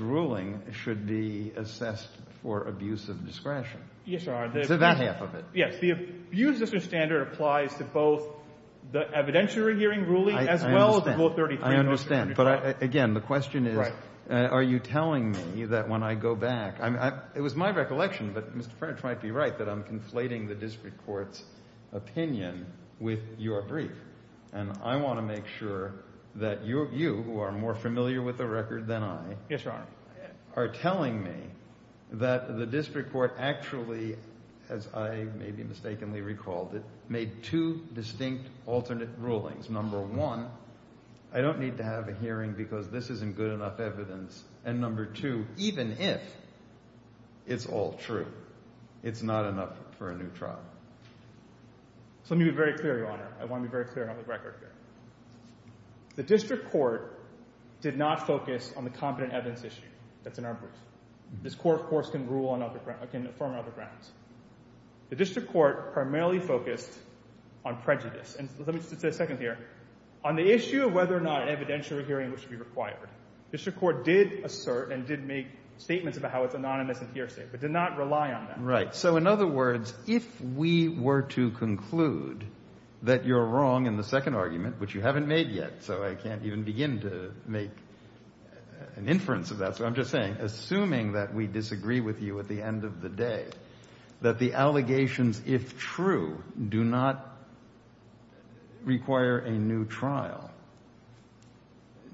ruling should be assessed for abuse of discretion. Is it that half of it? ruling and the district court's ruling. I understand. But again, the question is, are you telling me that when I go back, it was my recollection that Mr. French might be right, that I'm conflating the district court's opinion with your brief. And I want to make sure that you, who are more familiar with the record than I, are telling me that the district court actually, as I may be mistakenly recalled, made two distinct alternate rulings. Number one, I don't need to have a hearing because this isn't good enough evidence. And number two, even if it's all true, it's not enough for a new trial. So let me be very clear, Your Honor. I want to be very clear on the record here. The district court did not focus on the competent evidence issue. That's an emphasis. This court, of course, can rule on other grounds. It can affirm other grounds. The district court primarily focused on prejudice. And let me just say a second here. On the issue of whether or not an evidentiary hearing was required, the district court did assert and did make statements about how it's anonymous and fearsome. It did not rely on that. Right. So in other words, if we were to conclude that you're wrong in the second argument, which you haven't made yet, so I can't even begin to make an inference of that. So I'm just saying, assuming that we disagree with you at the end of the day, that the allegations, if true, do not require a new trial,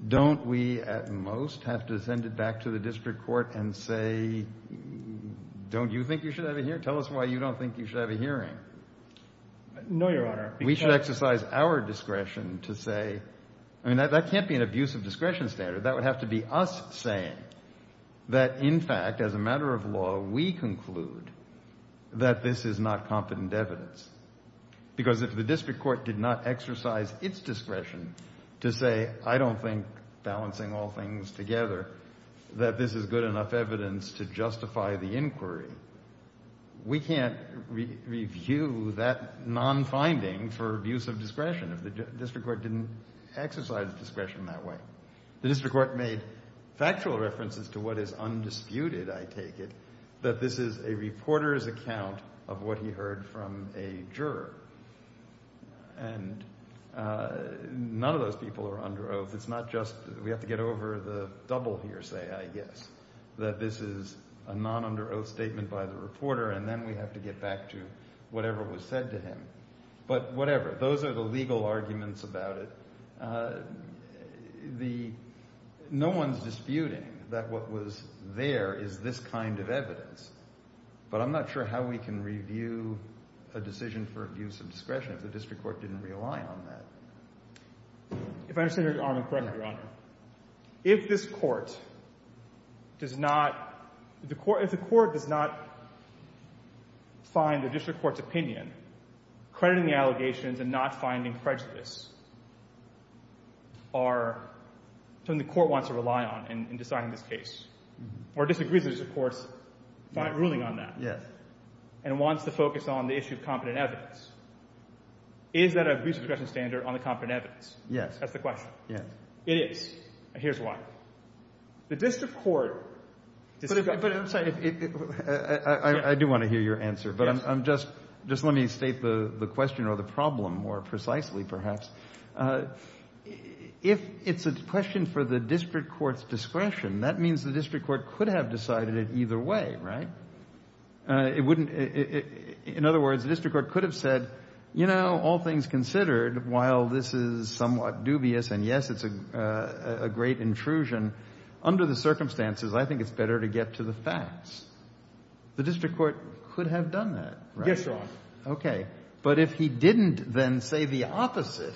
don't we at most have to send it back to the district court and say, don't you think you should have a hearing? Tell us why you don't think you should have a hearing. No, Your Honor. We should exercise our discretion to say, I mean, that can't be an abuse of discretion standard. That would have to be us saying that, in fact, as a matter of law, we conclude that this is not confident evidence. Because if the district court did not exercise its discretion to say, I don't think balancing all things together, that this is good enough evidence to justify the inquiry, we can't review that non-finding for abuse of discretion. The district court didn't exercise discretion that way. The district court made factual references to what is undisputed, I take it, that this is a reporter's account of what he heard from a juror. And none of those people are under oath. It's not just we have to get over the double hearsay, I guess, that this is a non-under oath statement by the reporter, and then we have to get back to whatever was said to him. But whatever, those are the legal arguments about it. No one's disputing that what was there is this kind of evidence. But I'm not sure how we can review a decision for abuse of discretion if the district court didn't rely on that. If I understand your Honor, correct me, Your Honor. If the court does not find the district court's opinion, crediting the allegations and not finding prejudice, then the court wants to rely on in deciding this case. Or disagrees with the court's ruling on that and wants to focus on the issue of competent evidence. Is that an abuse of discretion standard on the competent evidence? Yes. That's the question. It is. And here's why. The district court... I do want to hear your answer, but just let me state the question or the problem more precisely, perhaps. If it's a question for the district court's discretion, that means the district court could have decided it either way, right? In other words, the district court could have said, you know, all things considered, while this is somewhat dubious, and yes, it's a great intrusion, under the circumstances, I think it's better to get to the facts. The district court could have done that, right? Yes, Your Honor. Okay. But if he didn't then say the opposite,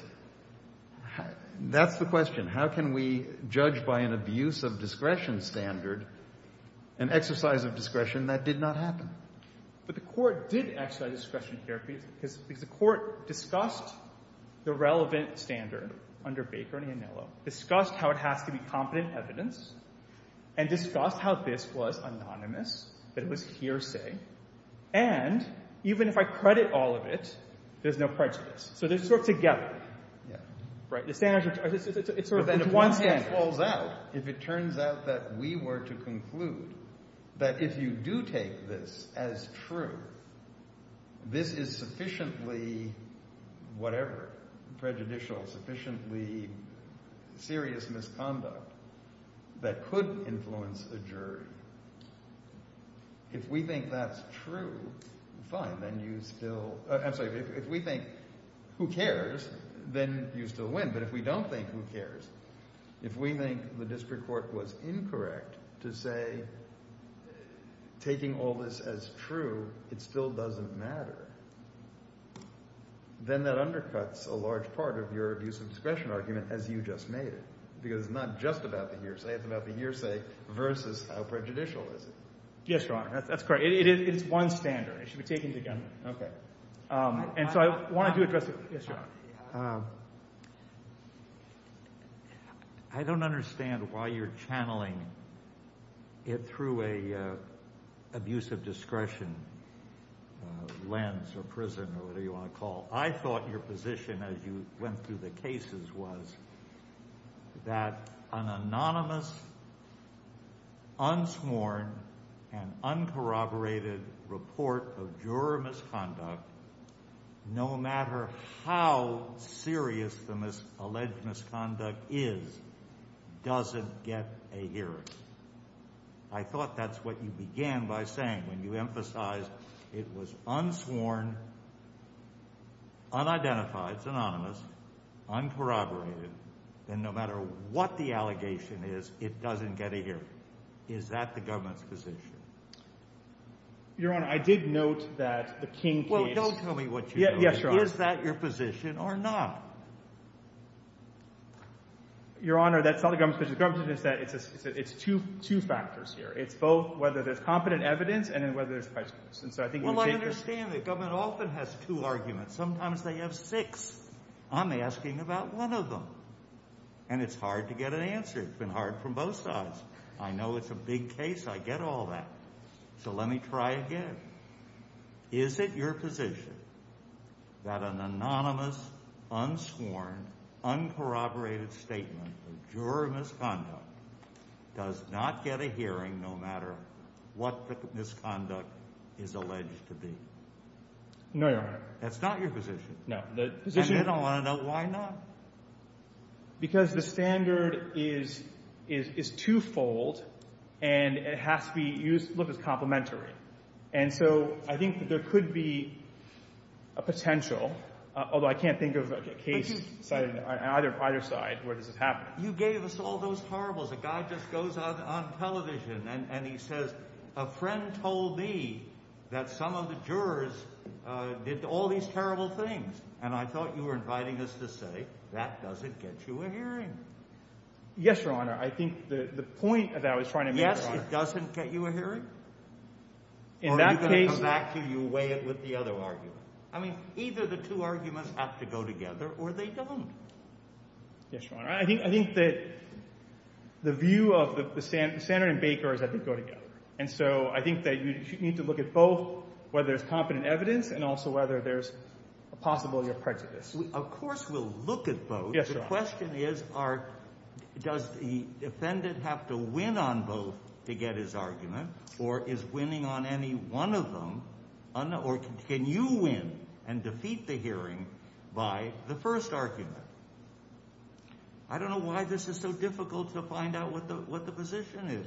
that's the question. How can we judge by an abuse of discretion standard an exercise of discretion that did not happen? But the court did exercise discretion here. The court discussed the relevant standard under Baker and Anillo, discussed how it has to be competent evidence, and discussed how this was anonymous, it was hearsay, and even if I credit all of it, there's no prejudice. So they stood together. Right. It's one standard. If it turns out that we were to conclude that if you do take this as true, this is sufficiently whatever, prejudicial, sufficiently serious misconduct, that could influence a jury, if we think that's true, fine, then you still... I'm sorry, if we think who cares, then you still win. But if we don't think who cares, if we think the district court was incorrect to say, taking all this as true, it still doesn't matter, then that undercuts a large part of your abuse of discretion argument as you just made it. Because it's not just about the hearsay, it's about the hearsay versus how prejudicial it is. Yes, Your Honor. That's correct. It is one standard. I should be taking it again. Okay. And so I wanted to address... Yes, Your Honor. I don't understand why you're channeling it through an abuse of discretion lens or prison, whatever you want to call it. What I thought your position as you went through the cases was that an anonymous, unsworn, and uncorroborated report of juror misconduct, no matter how serious the alleged misconduct is, doesn't get a hearing. I thought that's what you began by saying and you emphasized it was unsworn, unidentified, synonymous, uncorroborated, and no matter what the allegation is, it doesn't get a hearing. Is that the government's position? Your Honor, I did note that the king came... Well, don't tell me what you know. Yes, Your Honor. Is that your position or not? Your Honor, that's not the government's position. The government's position is that it's two factors here. It's both whether there's competent evidence and whether there's questions. Well, I understand the government often has two arguments. Sometimes they have six. I'm asking about one of them, and it's hard to get an answer. It's been hard from both sides. I know it's a big case. I get all that. So let me try again. Is it your position that an anonymous, unsworn, uncorroborated statement of juror misconduct does not get a hearing, no matter what the misconduct is alleged to be? No, Your Honor. That's not your position? No. And I don't want to know why not. Because the standard is twofold, and it has to be used to look as complementary. And so I think that there could be a potential, although I can't think of a case either side where this is happening. You gave us all those horribles. A guy just goes out on television, and he says, a friend told me that some of the jurors did all these terrible things, and I thought you were inviting us to say that doesn't get you a hearing. Yes, Your Honor. I think the point that I was trying to make was that. Yes, it doesn't get you a hearing? Or are you going to come back to you and weigh it with the other argument? I mean, either the two arguments have to go together, or they don't. Yes, Your Honor. I think that the view of the standard and Baker's have to go together. And so I think that you need to look at both, whether there's competent evidence, and also whether there's a possibility of prejudice. Of course we'll look at both. Yes, Your Honor. The question is, does the defendant have to win on both to get his argument, or is winning on any one of them? Or can you win and defeat the hearing by the first argument? I don't know why this is so difficult to find out what the position is.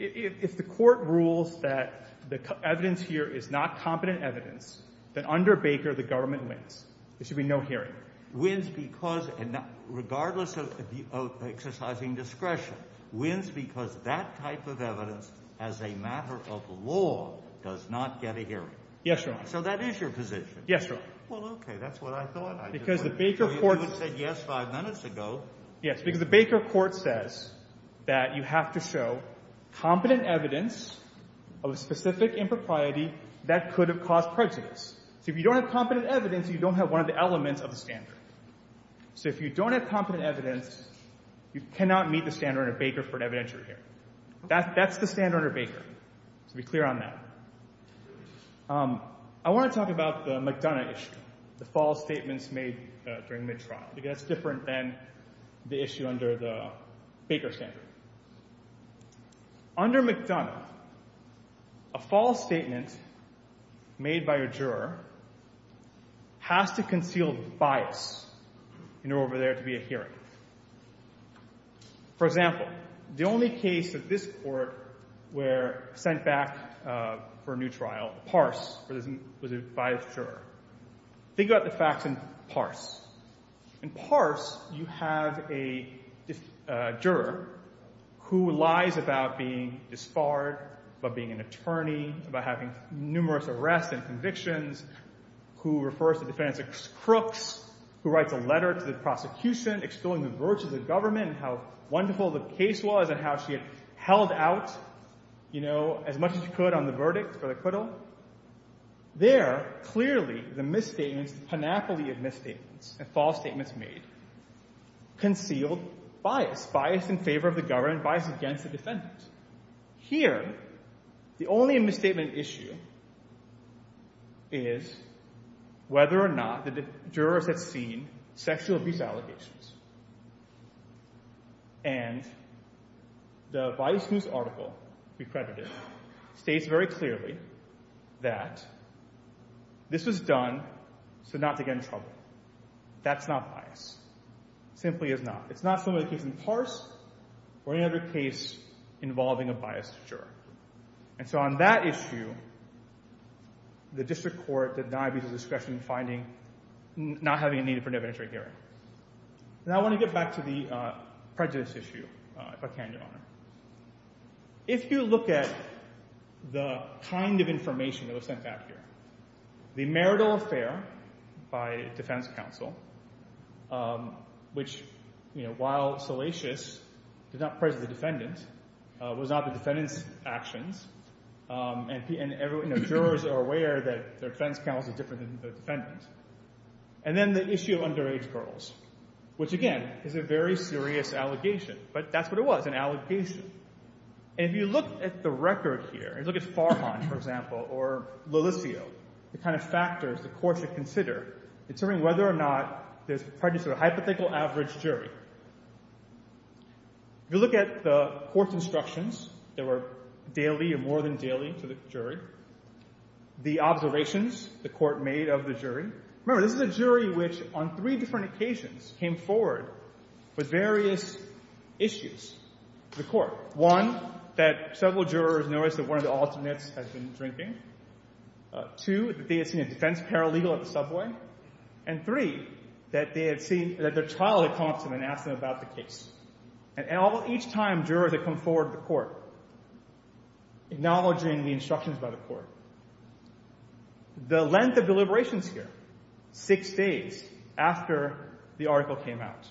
If the court rules that the evidence here is not competent evidence, then under Baker, the government wins. There should be no hearing. Wins because, regardless of exercising discretion, wins because that type of evidence, as a matter of law, does not get a hearing. Yes, Your Honor. So that is your position. Yes, Your Honor. Well, OK, that's what I thought. Because the Baker court said yes five minutes ago. Yes, because the Baker court says that you have to show competent evidence of a specific impropriety that could have caused prejudice. So if you don't have competent evidence, you don't have one of the elements of a standard. So if you don't have competent evidence, you cannot meet the standard under Baker for an evidentiary hearing. That's the standard under Baker. To be clear on that. I want to talk about the McDonough issue, the false statements made during midtrial. That's different than the issue under the Baker standard. Under McDonough, a false statement made by a juror has to conceal the bias in order for there to be a hearing. For example, the only case that this court were sent back for a new trial, Parse, was a biased juror. Figure out the facts in Parse. In Parse, you have a juror who lies about being disbarred, about being an attorney, about having numerous arrests and convictions, who refers to defendants as crooks, who writes a letter to the prosecution, extolling the virtues of government, how wonderful the case was, and how she had held out as much as she could on the verdict for the acquittal. There, clearly, there's a misstatement, a panoply of misstatements and false statements made, concealed bias, bias in favor of the government, bias against the defendants. Here, the only misstatement issue is whether or not the jurors have seen sexual abuse allegations. And the Biosmooth article we credited states very clearly that this was done to not defend the public. That's not bias. Simply is not. It's not something that can be parsed or any other case involving a biased juror. And so on that issue, the district court denied me the discretion in finding, not having a name for an evidentiary hearing. Now, I want to get back to the prejudice issue, if I can, Your Honor. If you look at the kind of information that was sent back here, the marital affair by defense counsel, which, while salacious, is not presently defendant, was not a defendant's actions. And jurors are aware that their defense counsel is different than the defendant. And then the issue of underage girls, which, again, is a very serious allegation. But that's what it was, an allegation. And if you look at the records here, and look at Farhan, for example, or Lilithio, the kind of factors the court should consider in determining whether or not this prejudice is a hypothetical average jury. If you look at the court's instructions, they were daily and more than daily for the jury. The observations the court made of the jury. Remember, this is a jury which, on three different occasions, came forward with various issues to the court. One, that several jurors noticed that one of the alternates had been drinking. Two, that they had seen a defense paralegal at the subway. And three, that their child had come up to an ambulance and asked them about the case. And each time, jurors had come forward to the court, acknowledging the instructions by the court. The length of deliberations here, six days after the article came out.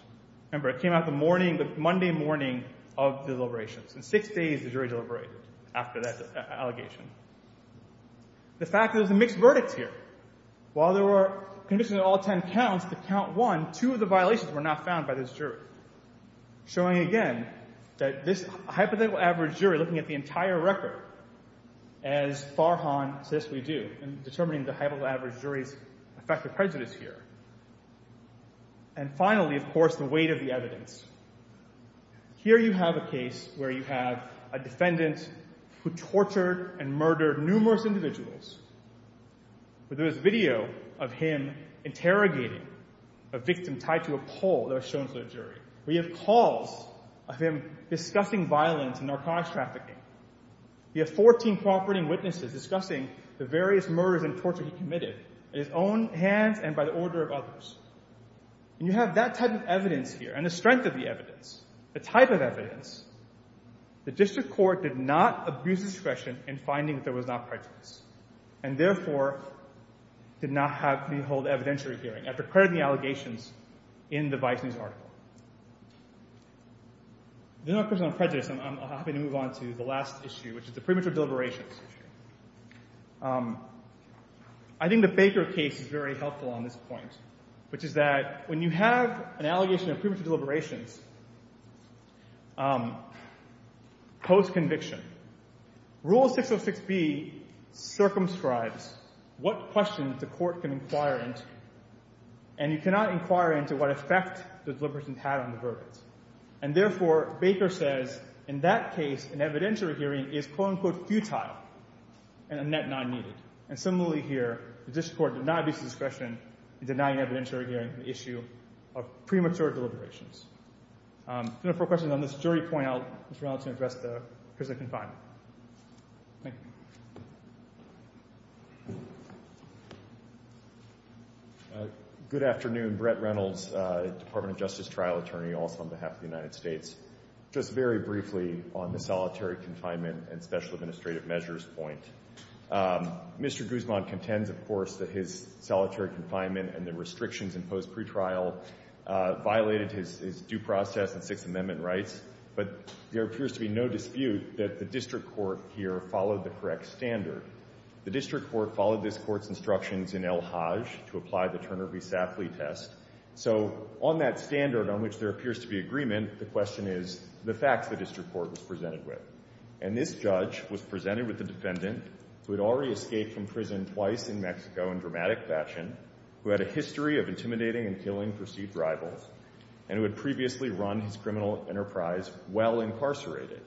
Remember, it came out the Monday morning of deliberations. In six days, the jury deliberated after that allegation. The fact that there's a mixed verdict here. While there were conditions in all 10 counts, in count one, two of the violations were not found by this jury. Showing again, that this hypothetical average jury looking at the entire record, as Farhan says we do, in determining the hypothetical average jury, the fact that President's here. And finally, of course, the weight of the evidence. Here you have a case where you have a defendant who tortured and murdered numerous individuals. There is video of him interrogating a victim tied to a pole that was shown to the jury. We have calls of him discussing violence and narcotics trafficking. We have 14 cooperating witnesses discussing the various murders and tortures he committed in his own hands and by the order of others. And you have that type of evidence here, and the strength of the evidence, the type of evidence. The district court did not abuse discretion in finding that there was not prejudice. And therefore, did not have to hold evidentiary hearing after crediting the allegations in the Bison's article. There's no personal prejudice, and I'm happy to move on to the last issue, which is the preemptive deliberations. I think the Baker case is very helpful on this point, which is that when you have an allegation of preemptive deliberations post-conviction. Rule 606B circumscribes what questions the court can inquire into. And you cannot inquire into what effect the deliberations had on the verdict. And therefore, Baker says, in that case, an evidentiary hearing is quote, unquote, futile and a net non-needed. And similarly here, the district court did not abuse discretion in denying evidentiary hearings an issue of premature deliberations. No more questions on this. Jury point out Mr. Reynolds can address the prison confinement. Good afternoon. Brett Reynolds, Department of Justice trial attorney also on behalf of the United States. Just very briefly on the solitary confinement and special administrative measures point. Mr. Guzman contends, of course, that his solitary confinement and the restrictions imposed pre-trial violated his due process and Fifth Amendment rights. But there appears to be no dispute that the district court here followed the correct standard. The district court followed this court's instructions in El Hajj to apply the Turner v. Safley test. So on that standard on which there appears to be agreement, the question is the facts the district court was presented with. And this judge was presented with a defendant who had already escaped from prison twice in Mexico in dramatic fashion, who had a history of intimidating and killing perceived rivals, and who had previously run his criminal enterprise while incarcerated.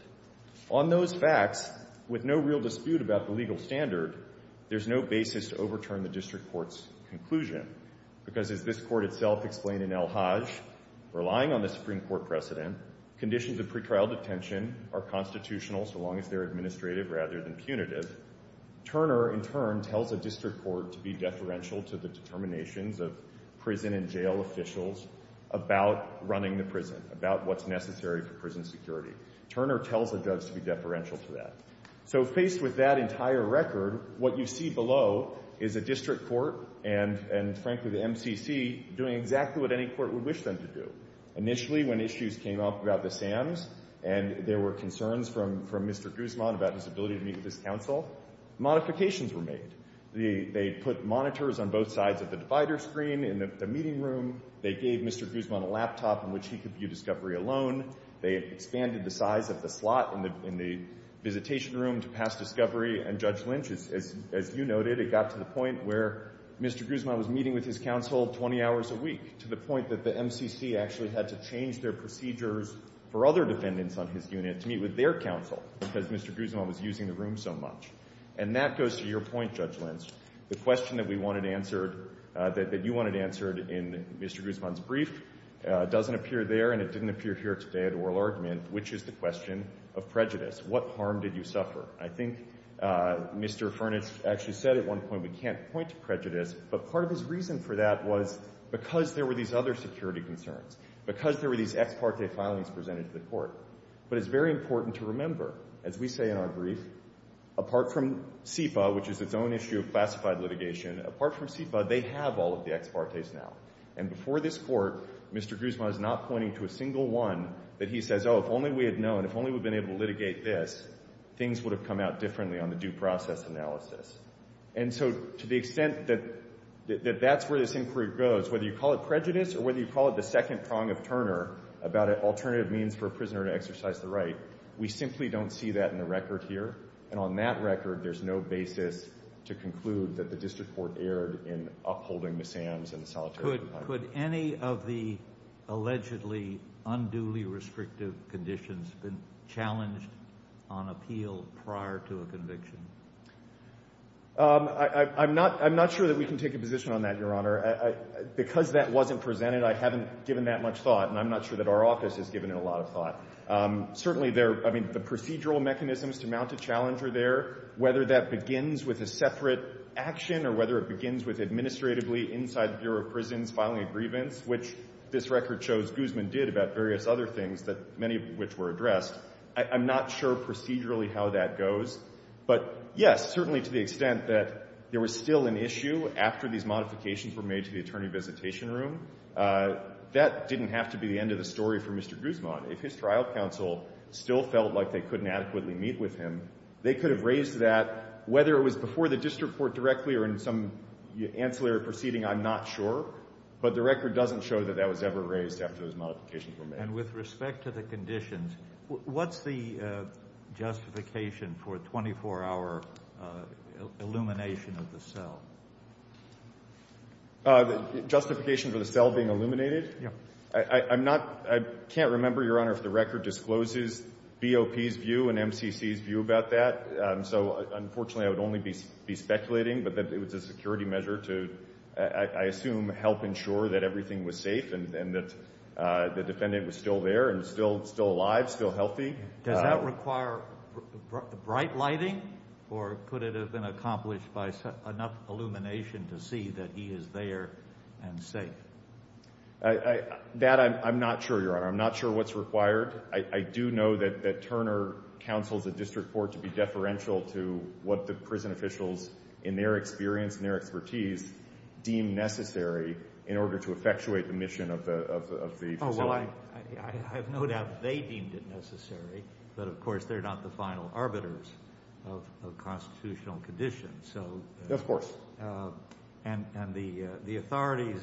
On those facts, with no real dispute about the legal standard, there's no basis to overturn the district court's conclusion. Because as this court itself explained in El Hajj, relying on the Supreme Court precedent, conditions of pre-trial detention are constitutional so long as they're administrative rather than punitive. Turner, in turn, tells the district court to be deferential to the determinations of prison and jail officials about running the prison, about what's necessary for prison security. Turner tells the judge to be deferential to that. So faced with that entire record, what you see below is a district court and, frankly, the MCC doing exactly what any court would wish them to do. Initially, when issues came up about the SAMs and there were concerns from Mr. Guzman about his ability to meet with his counsel, modifications were made. They put monitors on both sides of the divider screen in the meeting room. They gave Mr. Guzman a laptop in which he could view discovery alone. They expanded the size of the plot in the visitation room to pass discovery. And Judge Lynch, as you noted, it got to the point where Mr. Guzman was meeting with his counsel 20 hours a week, to the point that the MCC actually had to change their procedures for other defendants on his unit to meet with their counsel because Mr. Guzman was using the room so much. And that goes to your point, Judge Lynch. The question that we wanted answered, that you wanted answered in Mr. Guzman's brief, doesn't appear there, and it didn't appear here today at oral argument, which is the question of prejudice. What harm did you suffer? I think Mr. Furnish actually said at one point, we can't point to prejudice. But part of his reason for that was because there were these other security concerns, because there were these ex parte filings presented to the court. But it's very important to remember, as we say in our brief, apart from SEPA, which is its own issue of classified litigation, apart from SEPA, they have all of the ex partes now. And before this court, Mr. Guzman is not pointing to a single one that he says, oh, if only we had known, if only we'd been able to litigate this, things would have come out differently on the due process analysis. And so to the extent that that's where this inquiry goes, whether you call it prejudice or whether you call it the second prong of Turner about an alternative means for a prisoner to exercise the right, we simply don't see that in the record here. And on that record, there's no basis to conclude that the district court erred in upholding the SAMs and solitary confinement. Could any of the allegedly unduly restrictive conditions be challenged on appeal prior to a conviction? I'm not sure that we can take a position on that, Your Honor. Because that wasn't presented, I haven't given that much thought. And I'm not sure that our office has given it a lot of thought. Certainly, the procedural mechanisms to mount a challenge are there. Whether that begins with a separate action or whether it begins with administratively inside the Bureau of Prisons filing a grievance, which this record shows Guzman did about various other things, many of which were addressed, I'm not sure procedurally how that goes. But yes, certainly to the extent that there was still an issue after these modifications were made to the attorney visitation room, that didn't have to be the end of the story for Mr. Guzman. If his trial counsel still felt like they couldn't adequately meet with him, they could have raised that. Whether it was before the district court directly or in some ancillary proceeding, I'm not sure. But the record doesn't show that that was ever raised after those modifications were made. And with respect to the conditions, what's the justification for a 24-hour illumination of the cell? Justification for the cell being illuminated? Yeah. I can't remember, Your Honor, if the record discloses BOP's view and MCC's view about that. So unfortunately, I would only be speculating. But it was a security measure to, I assume, help ensure that everything was safe and that the defendant was still there and still alive, still healthy. Does that require bright lighting? Or could it have been accomplished by enough illumination to see that he is there and safe? That I'm not sure, Your Honor. I'm not sure what's required. I do know that Turner counseled the district court to be deferential to what the prison officials, in their experience and their expertise, deemed necessary in order to effectuate the mission of the facility. Oh, well, I have no doubt that they deemed it necessary. But of course, they're not the final arbiters of constitutional conditions. Of course. And the authorities,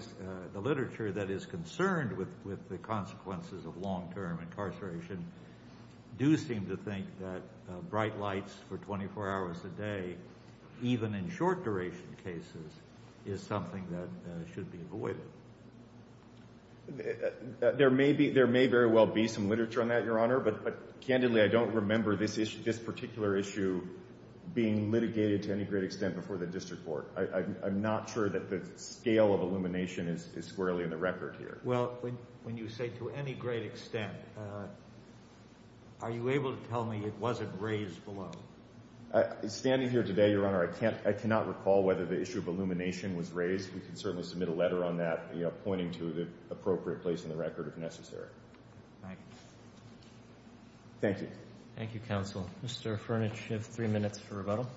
the literature that is concerned with the consequences of long-term incarceration, do seem to think that bright lights for 24 hours a day, even in short-duration cases, is something that should be avoided. There may very well be some literature on that, Your Honor. But candidly, I don't remember this particular issue being litigated to any great extent before the district court. I'm not sure that the scale of illumination is squarely in the record here. Well, when you say to any great extent, are you able to tell me it wasn't raised below? Standing here today, Your Honor, I cannot recall whether the issue of illumination was raised. We can certainly submit a letter on that, pointing to the appropriate place in the record, if necessary. Right. Thank you. Thank you, counsel. Mr. Furnish, you have three minutes for rebuttal.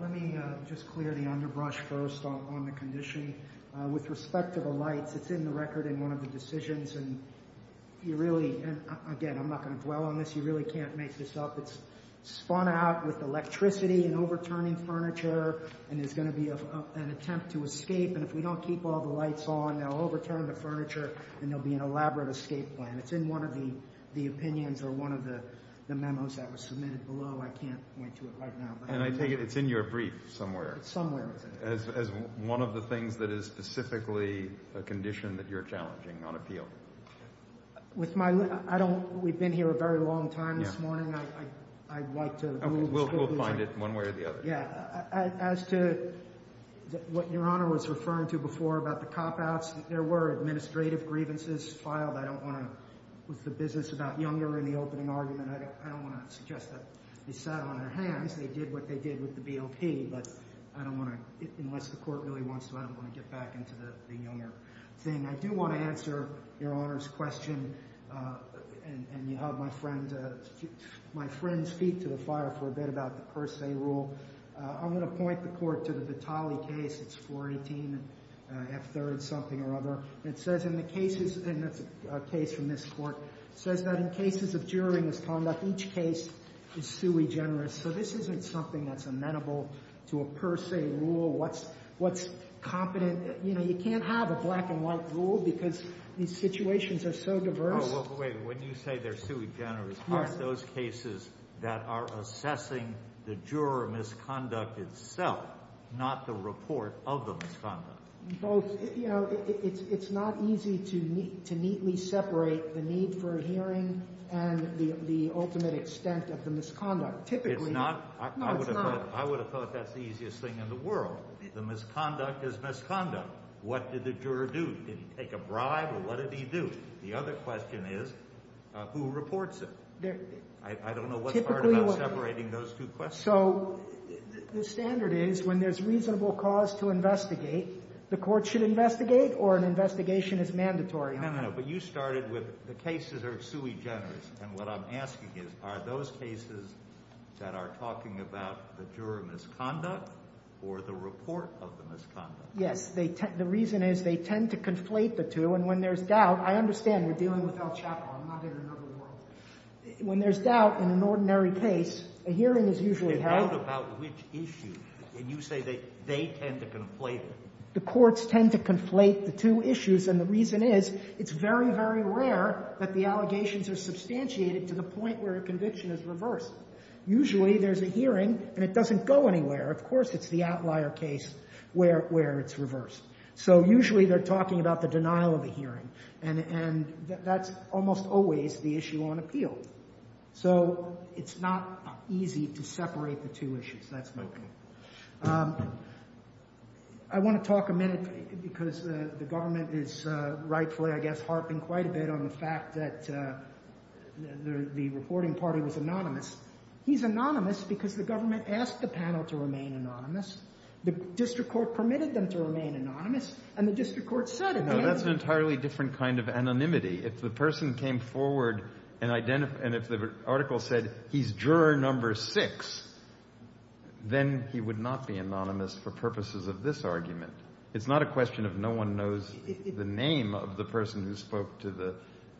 Let me just clear the underbrush first on the condition. With respect to the lights, it's in the record in one of the decisions. And you really, again, I'm not going to dwell on this. You really can't make this up. It's spun out with electricity and overturning furniture. And there's going to be an attempt to escape. And if we don't keep all the lights on, they'll overturn the furniture. And there'll be an elaborate escape plan. It's in one of the opinions or one of the memos that was submitted below. I can't answer it right now. And I think it's in your brief somewhere. It's somewhere. As one of the things that is specifically a condition that you're challenging on appeal. We've been here a very long time this morning. I'd like to move this quickly. We'll find it one way or the other. Yeah. As to what Your Honor was referring to before about the cop-outs, there were administrative grievances filed. I don't want to put the business about Younger in the opening argument. I don't want to suggest that they sat on their hands. They did what they did with the BLT. But unless the court really wants to, I don't want to get back into the Younger thing. I do want to answer Your Honor's question. And you had my friend speak to the fire for a bit about the per se rule. I'm going to point the court to the Vitale case. It's 418 F3rd something or other. And the case from this court says that in cases of juror misconduct, each case is sui generis. So this isn't something that's amenable to a per se rule. What's competent? You can't have a black and white rule because these situations are so diverse. Wait. When you say they're sui generis, aren't those cases that are assessing the juror misconduct itself, not the report of the misconduct? It's not easy to neatly separate the need for hearing and the ultimate extent of the misconduct. If not, I would have thought that's the easiest thing in the world. The misconduct is misconduct. What did the juror do? Did he take a bribe, or what did he do? The other question is, who reports it? I don't know what's hard about separating those two questions. So the standard is when there's reasonable cause to investigate, the court should investigate, or an investigation is mandatory. No, no, no, but you started with the cases are sui generis. And what I'm asking you, are those cases that are talking about the juror misconduct or the report of the misconduct? Yes. The reason is they tend to conflate the two. And when there's doubt, I understand you're dealing with El Chapo. I'm not in another world. When there's doubt in an ordinary case, a hearing is usually held. You wrote about which issue, and you say that they tend to conflate it. The courts tend to conflate the two issues. And the reason is, it's very, very rare that the allegations are substantiated to the point where a conviction is reversed. Usually, there's a hearing, and it doesn't go anywhere. Of course, it's the outlier case where it's reversed. So usually, they're talking about the denial of a hearing. And that's almost always the issue on appeal. So it's not easy to separate the two issues. That's my point. I want to talk a minute, because the government is rightfully, I guess, harping quite a bit on the fact that the reporting party was anonymous. He's anonymous because the government asked the panel to remain anonymous. The district court permitted them to remain anonymous, and the district court said it. No, that's an entirely different kind of anonymity. If the person came forward, and if the article said, he's juror number six, then he would not be anonymous for purposes of this argument. It's not a question of no one knows the name of the person who spoke to the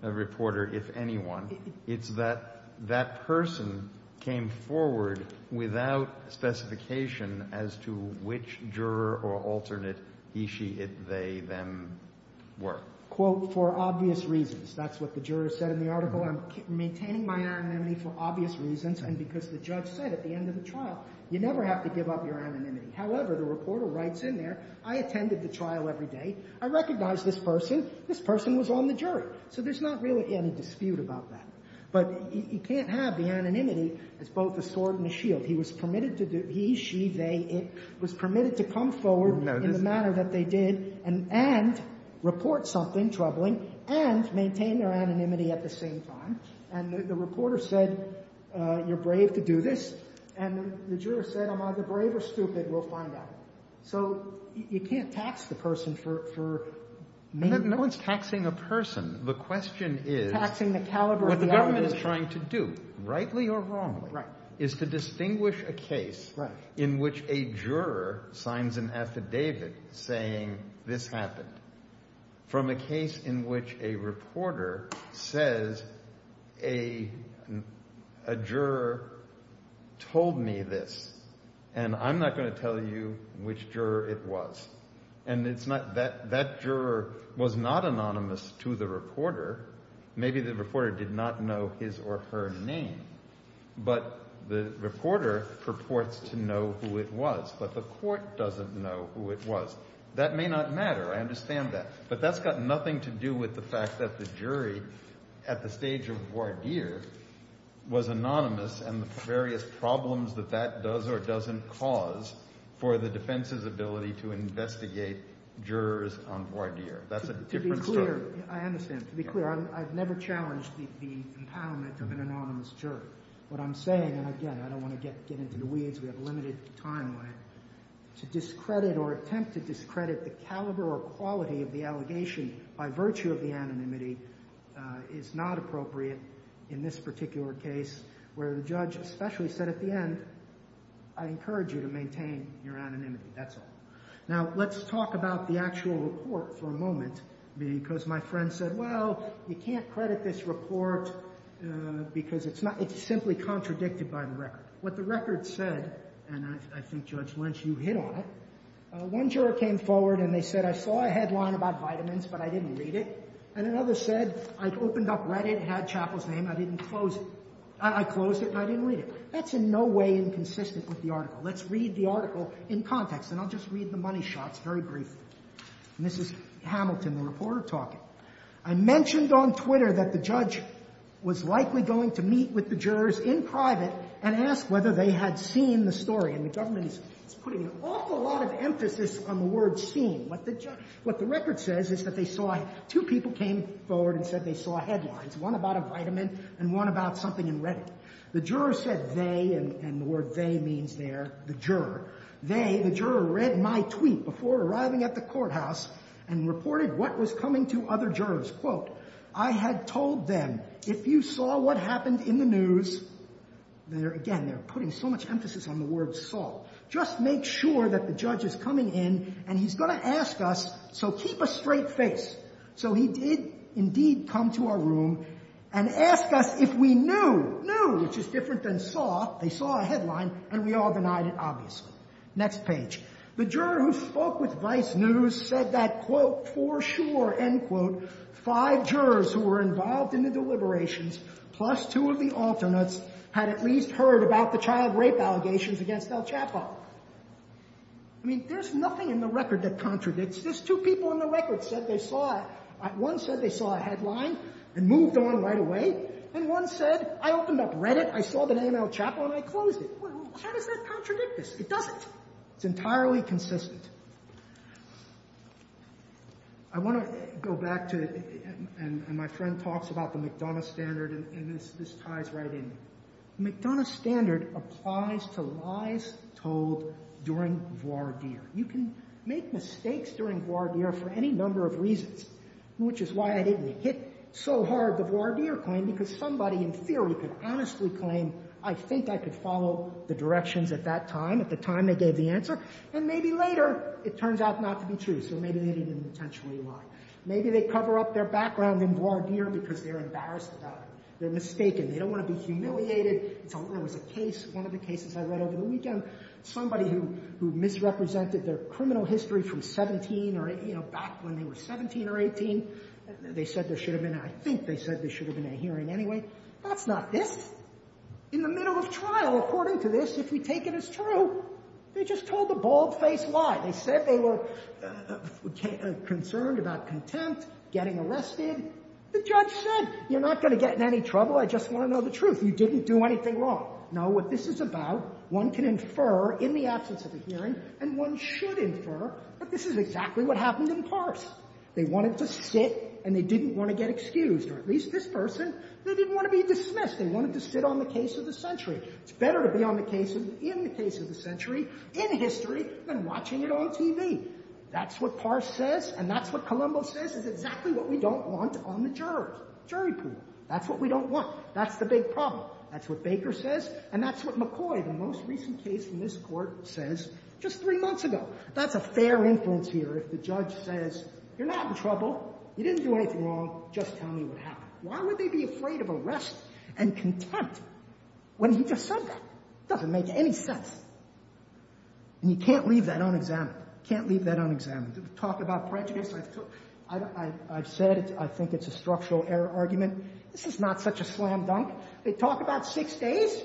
reporter, if anyone. It's that that person came forward without specification as to which juror or alternate he, she, it, they, them were. Quote, for obvious reasons. That's what the juror said in the article. I'm maintaining my anonymity for obvious reasons, and because the judge said at the end of the trial, you never have to give up your anonymity. However, the reporter writes in there, I attended the trial every day. I recognized this person. This person was on the jury. So there's not really any dispute about that. But you can't have the anonymity that's both the sword and the shield. He, she, they, it was permitted to come forward in the manner that they did, and report something troubling, and maintain their anonymity at the same time. And the reporter said, you're brave to do this. And the juror said, I'm either brave or stupid. We'll find out. So you can't tax the person for name. No one's taxing a person. The question is what the government is trying to do, rightly or wrongly, is to distinguish a case in which a juror signs an affidavit saying this happened from a case in which a reporter says a juror told me this. And I'm not going to tell you which juror it was. And that juror was not anonymous to the reporter. Maybe the reporter did not know his or her name. But the reporter purports to know who it was. But the court doesn't know who it was. So that may not matter. I understand that. But that's got nothing to do with the fact that the jury, at the stage of voir dire, was anonymous and the various problems that that does or doesn't cause for the defense's ability to investigate jurors on voir dire. That's a different story. To be clear, I understand. To be clear, I've never challenged the empowerment of an anonymous juror. What I'm saying, and again, I don't want to get into the weeds. We have a limited timeline. To discredit or attempt to discredit the caliber or quality of the allegation by virtue of the anonymity is not appropriate in this particular case, where the judge especially said at the end, I encourage you to maintain your anonymity. That's all. Now, let's talk about the actual report for a moment. Because my friend said, well, we can't credit this report because it's simply contradicted by the record. What the record said, and I think, Judge Lynch, you hit on it. One juror came forward and they said, I saw a headline about vitamins, but I didn't read it. And another said, I opened up Reddit. It had Chappell's name. I didn't close it. I closed it, but I didn't read it. That's in no way inconsistent with the article. Let's read the article in context. And I'll just read the money shot, very briefly. And this is Hamilton, the reporter, talking. I mentioned on Twitter that the judge was likely going to meet with the jurors in private and ask whether they had seen the story. And the government is putting an awful lot of emphasis on the word seen. What the record says is that two people came forward and said they saw headlines, one about a vitamin and one about something in Reddit. The juror said they, and the word they means there, the juror. They, the juror, read my tweet before arriving at the courthouse and reported what was coming to other jurors. Quote, I had told them, if you saw what happened in the news, and again, they're putting so much emphasis on the word saw, just make sure that the judge is coming in and he's going to ask us, so keep a straight face. So he did, indeed, come to our room and ask us if we knew, knew, which is different than saw. They saw a headline, and we all denied it, obviously. The juror who spoke with Vice News said that, quote, for sure, end quote, five jurors who were involved in the deliberations, plus two of the alternates, had at least heard about the child rape allegations against Al Chappell. I mean, there's nothing in the record that contradicts this. Two people in the record said they saw it. One said they saw a headline and moved on right away. And one said, I opened up Reddit, I saw the name Al Chappell, and I closed it. How does that contradict this? It doesn't. It's entirely consistent. I want to go back to, and my friend talks about the McDonough standard, and this ties right in. The McDonough standard applies to lies told during voir dire. You can make mistakes during voir dire for any number of reasons, which is why I didn't hit so hard the voir dire claim, because somebody, in theory, could honestly claim, I think I could follow the directions at that time, at the time they gave the answer. And maybe later, it turns out not to be true. So maybe they didn't intentionally lie. Maybe they cover up their background in voir dire because they're embarrassed about it. They're mistaken. They don't want to be humiliated. There was a case, one of the cases I read over the weekend, somebody who misrepresented their criminal history from 17 or, you know, back when they were 17 or 18. They said there should have been a, I think they said there should have been a hearing anyway. That's not it. In the middle of trial, according to this, if we take it as true, they just told a bald-faced lie. They said they were concerned about contempt, getting arrested. The judge said, you're not going to get in any trouble. I just want to know the truth. You didn't do anything wrong. No, what this is about, one can infer in the absence of a hearing, and one should infer that this is exactly what happened in Paris. They wanted to sit, and they didn't want to get excused. Or at least this person, they didn't want to be dismissed. They wanted to sit on the case of the century. It's better to be on the case, in the case of the century, in history, than watching it on TV. That's what Paris says, and that's what Columbo says. It's exactly what we don't want on the jury. Jury proof. That's what we don't want. That's the big problem. That's what Baker says, and that's what McCoy, the most recent case in this court, says just three months ago. That's a fair influence here. If the judge says, you're not in trouble. You didn't do anything wrong. Just tell me what happened. Why would they be afraid of arrest and contempt when he just said that? It doesn't make any sense. And you can't leave that unexamined. You can't leave that unexamined. Talk about prejudice. I've said it. I think it's a structural error argument. This is not such a slam dunk. They talk about six days.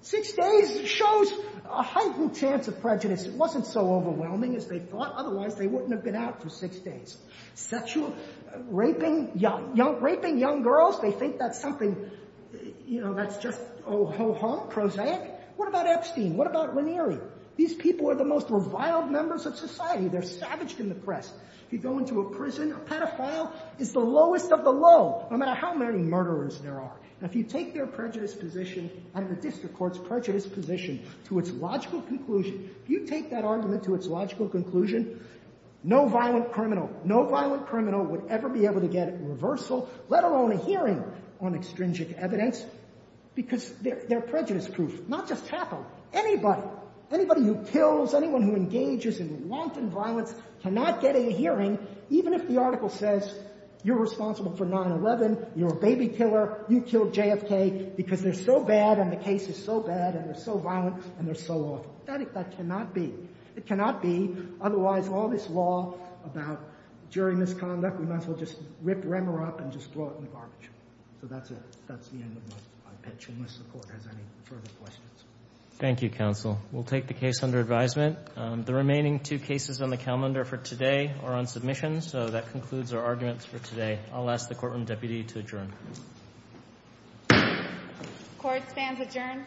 Six days shows a horrible chance of prejudice. It wasn't so overwhelming as they thought. Otherwise, they wouldn't have been out for six days. Sexual raping, young girls, they think that's something that's just ho-hum, prosaic. What about Epstein? What about Ranieri? These people are the most reviled members of society. They're savaged in the press. If you go into a prison, a pedophile is the lowest of the low, no matter how many murderers there are. Now, if you take their prejudice position, and the district court's prejudice position, to its logical conclusion, if you take that argument to its logical conclusion, no violent criminal would ever be able to get a reversal, let alone a hearing on extrinsic evidence, because they're prejudice proof. Not just happen. Anybody. Anybody who kills, anyone who engages in rampant violence cannot get a hearing, even if the article says, you're responsible for 9-11, you're a baby killer, you killed JFK, because they're so bad, and the case is so bad, and they're so violent, and they're so awful. That effect cannot be. It cannot be. Otherwise, all this law about during this conduct, we might as well just rip Remmer up, and just throw it in the garbage. So that's it. That's the end of my pitch, unless the court has any further questions. Thank you, counsel. We'll take the case under advisement. The remaining two cases on the calendar for today are on submission, so that concludes our arguments for today. I'll ask the courtroom deputy to adjourn. Court stands adjourned. Thank you.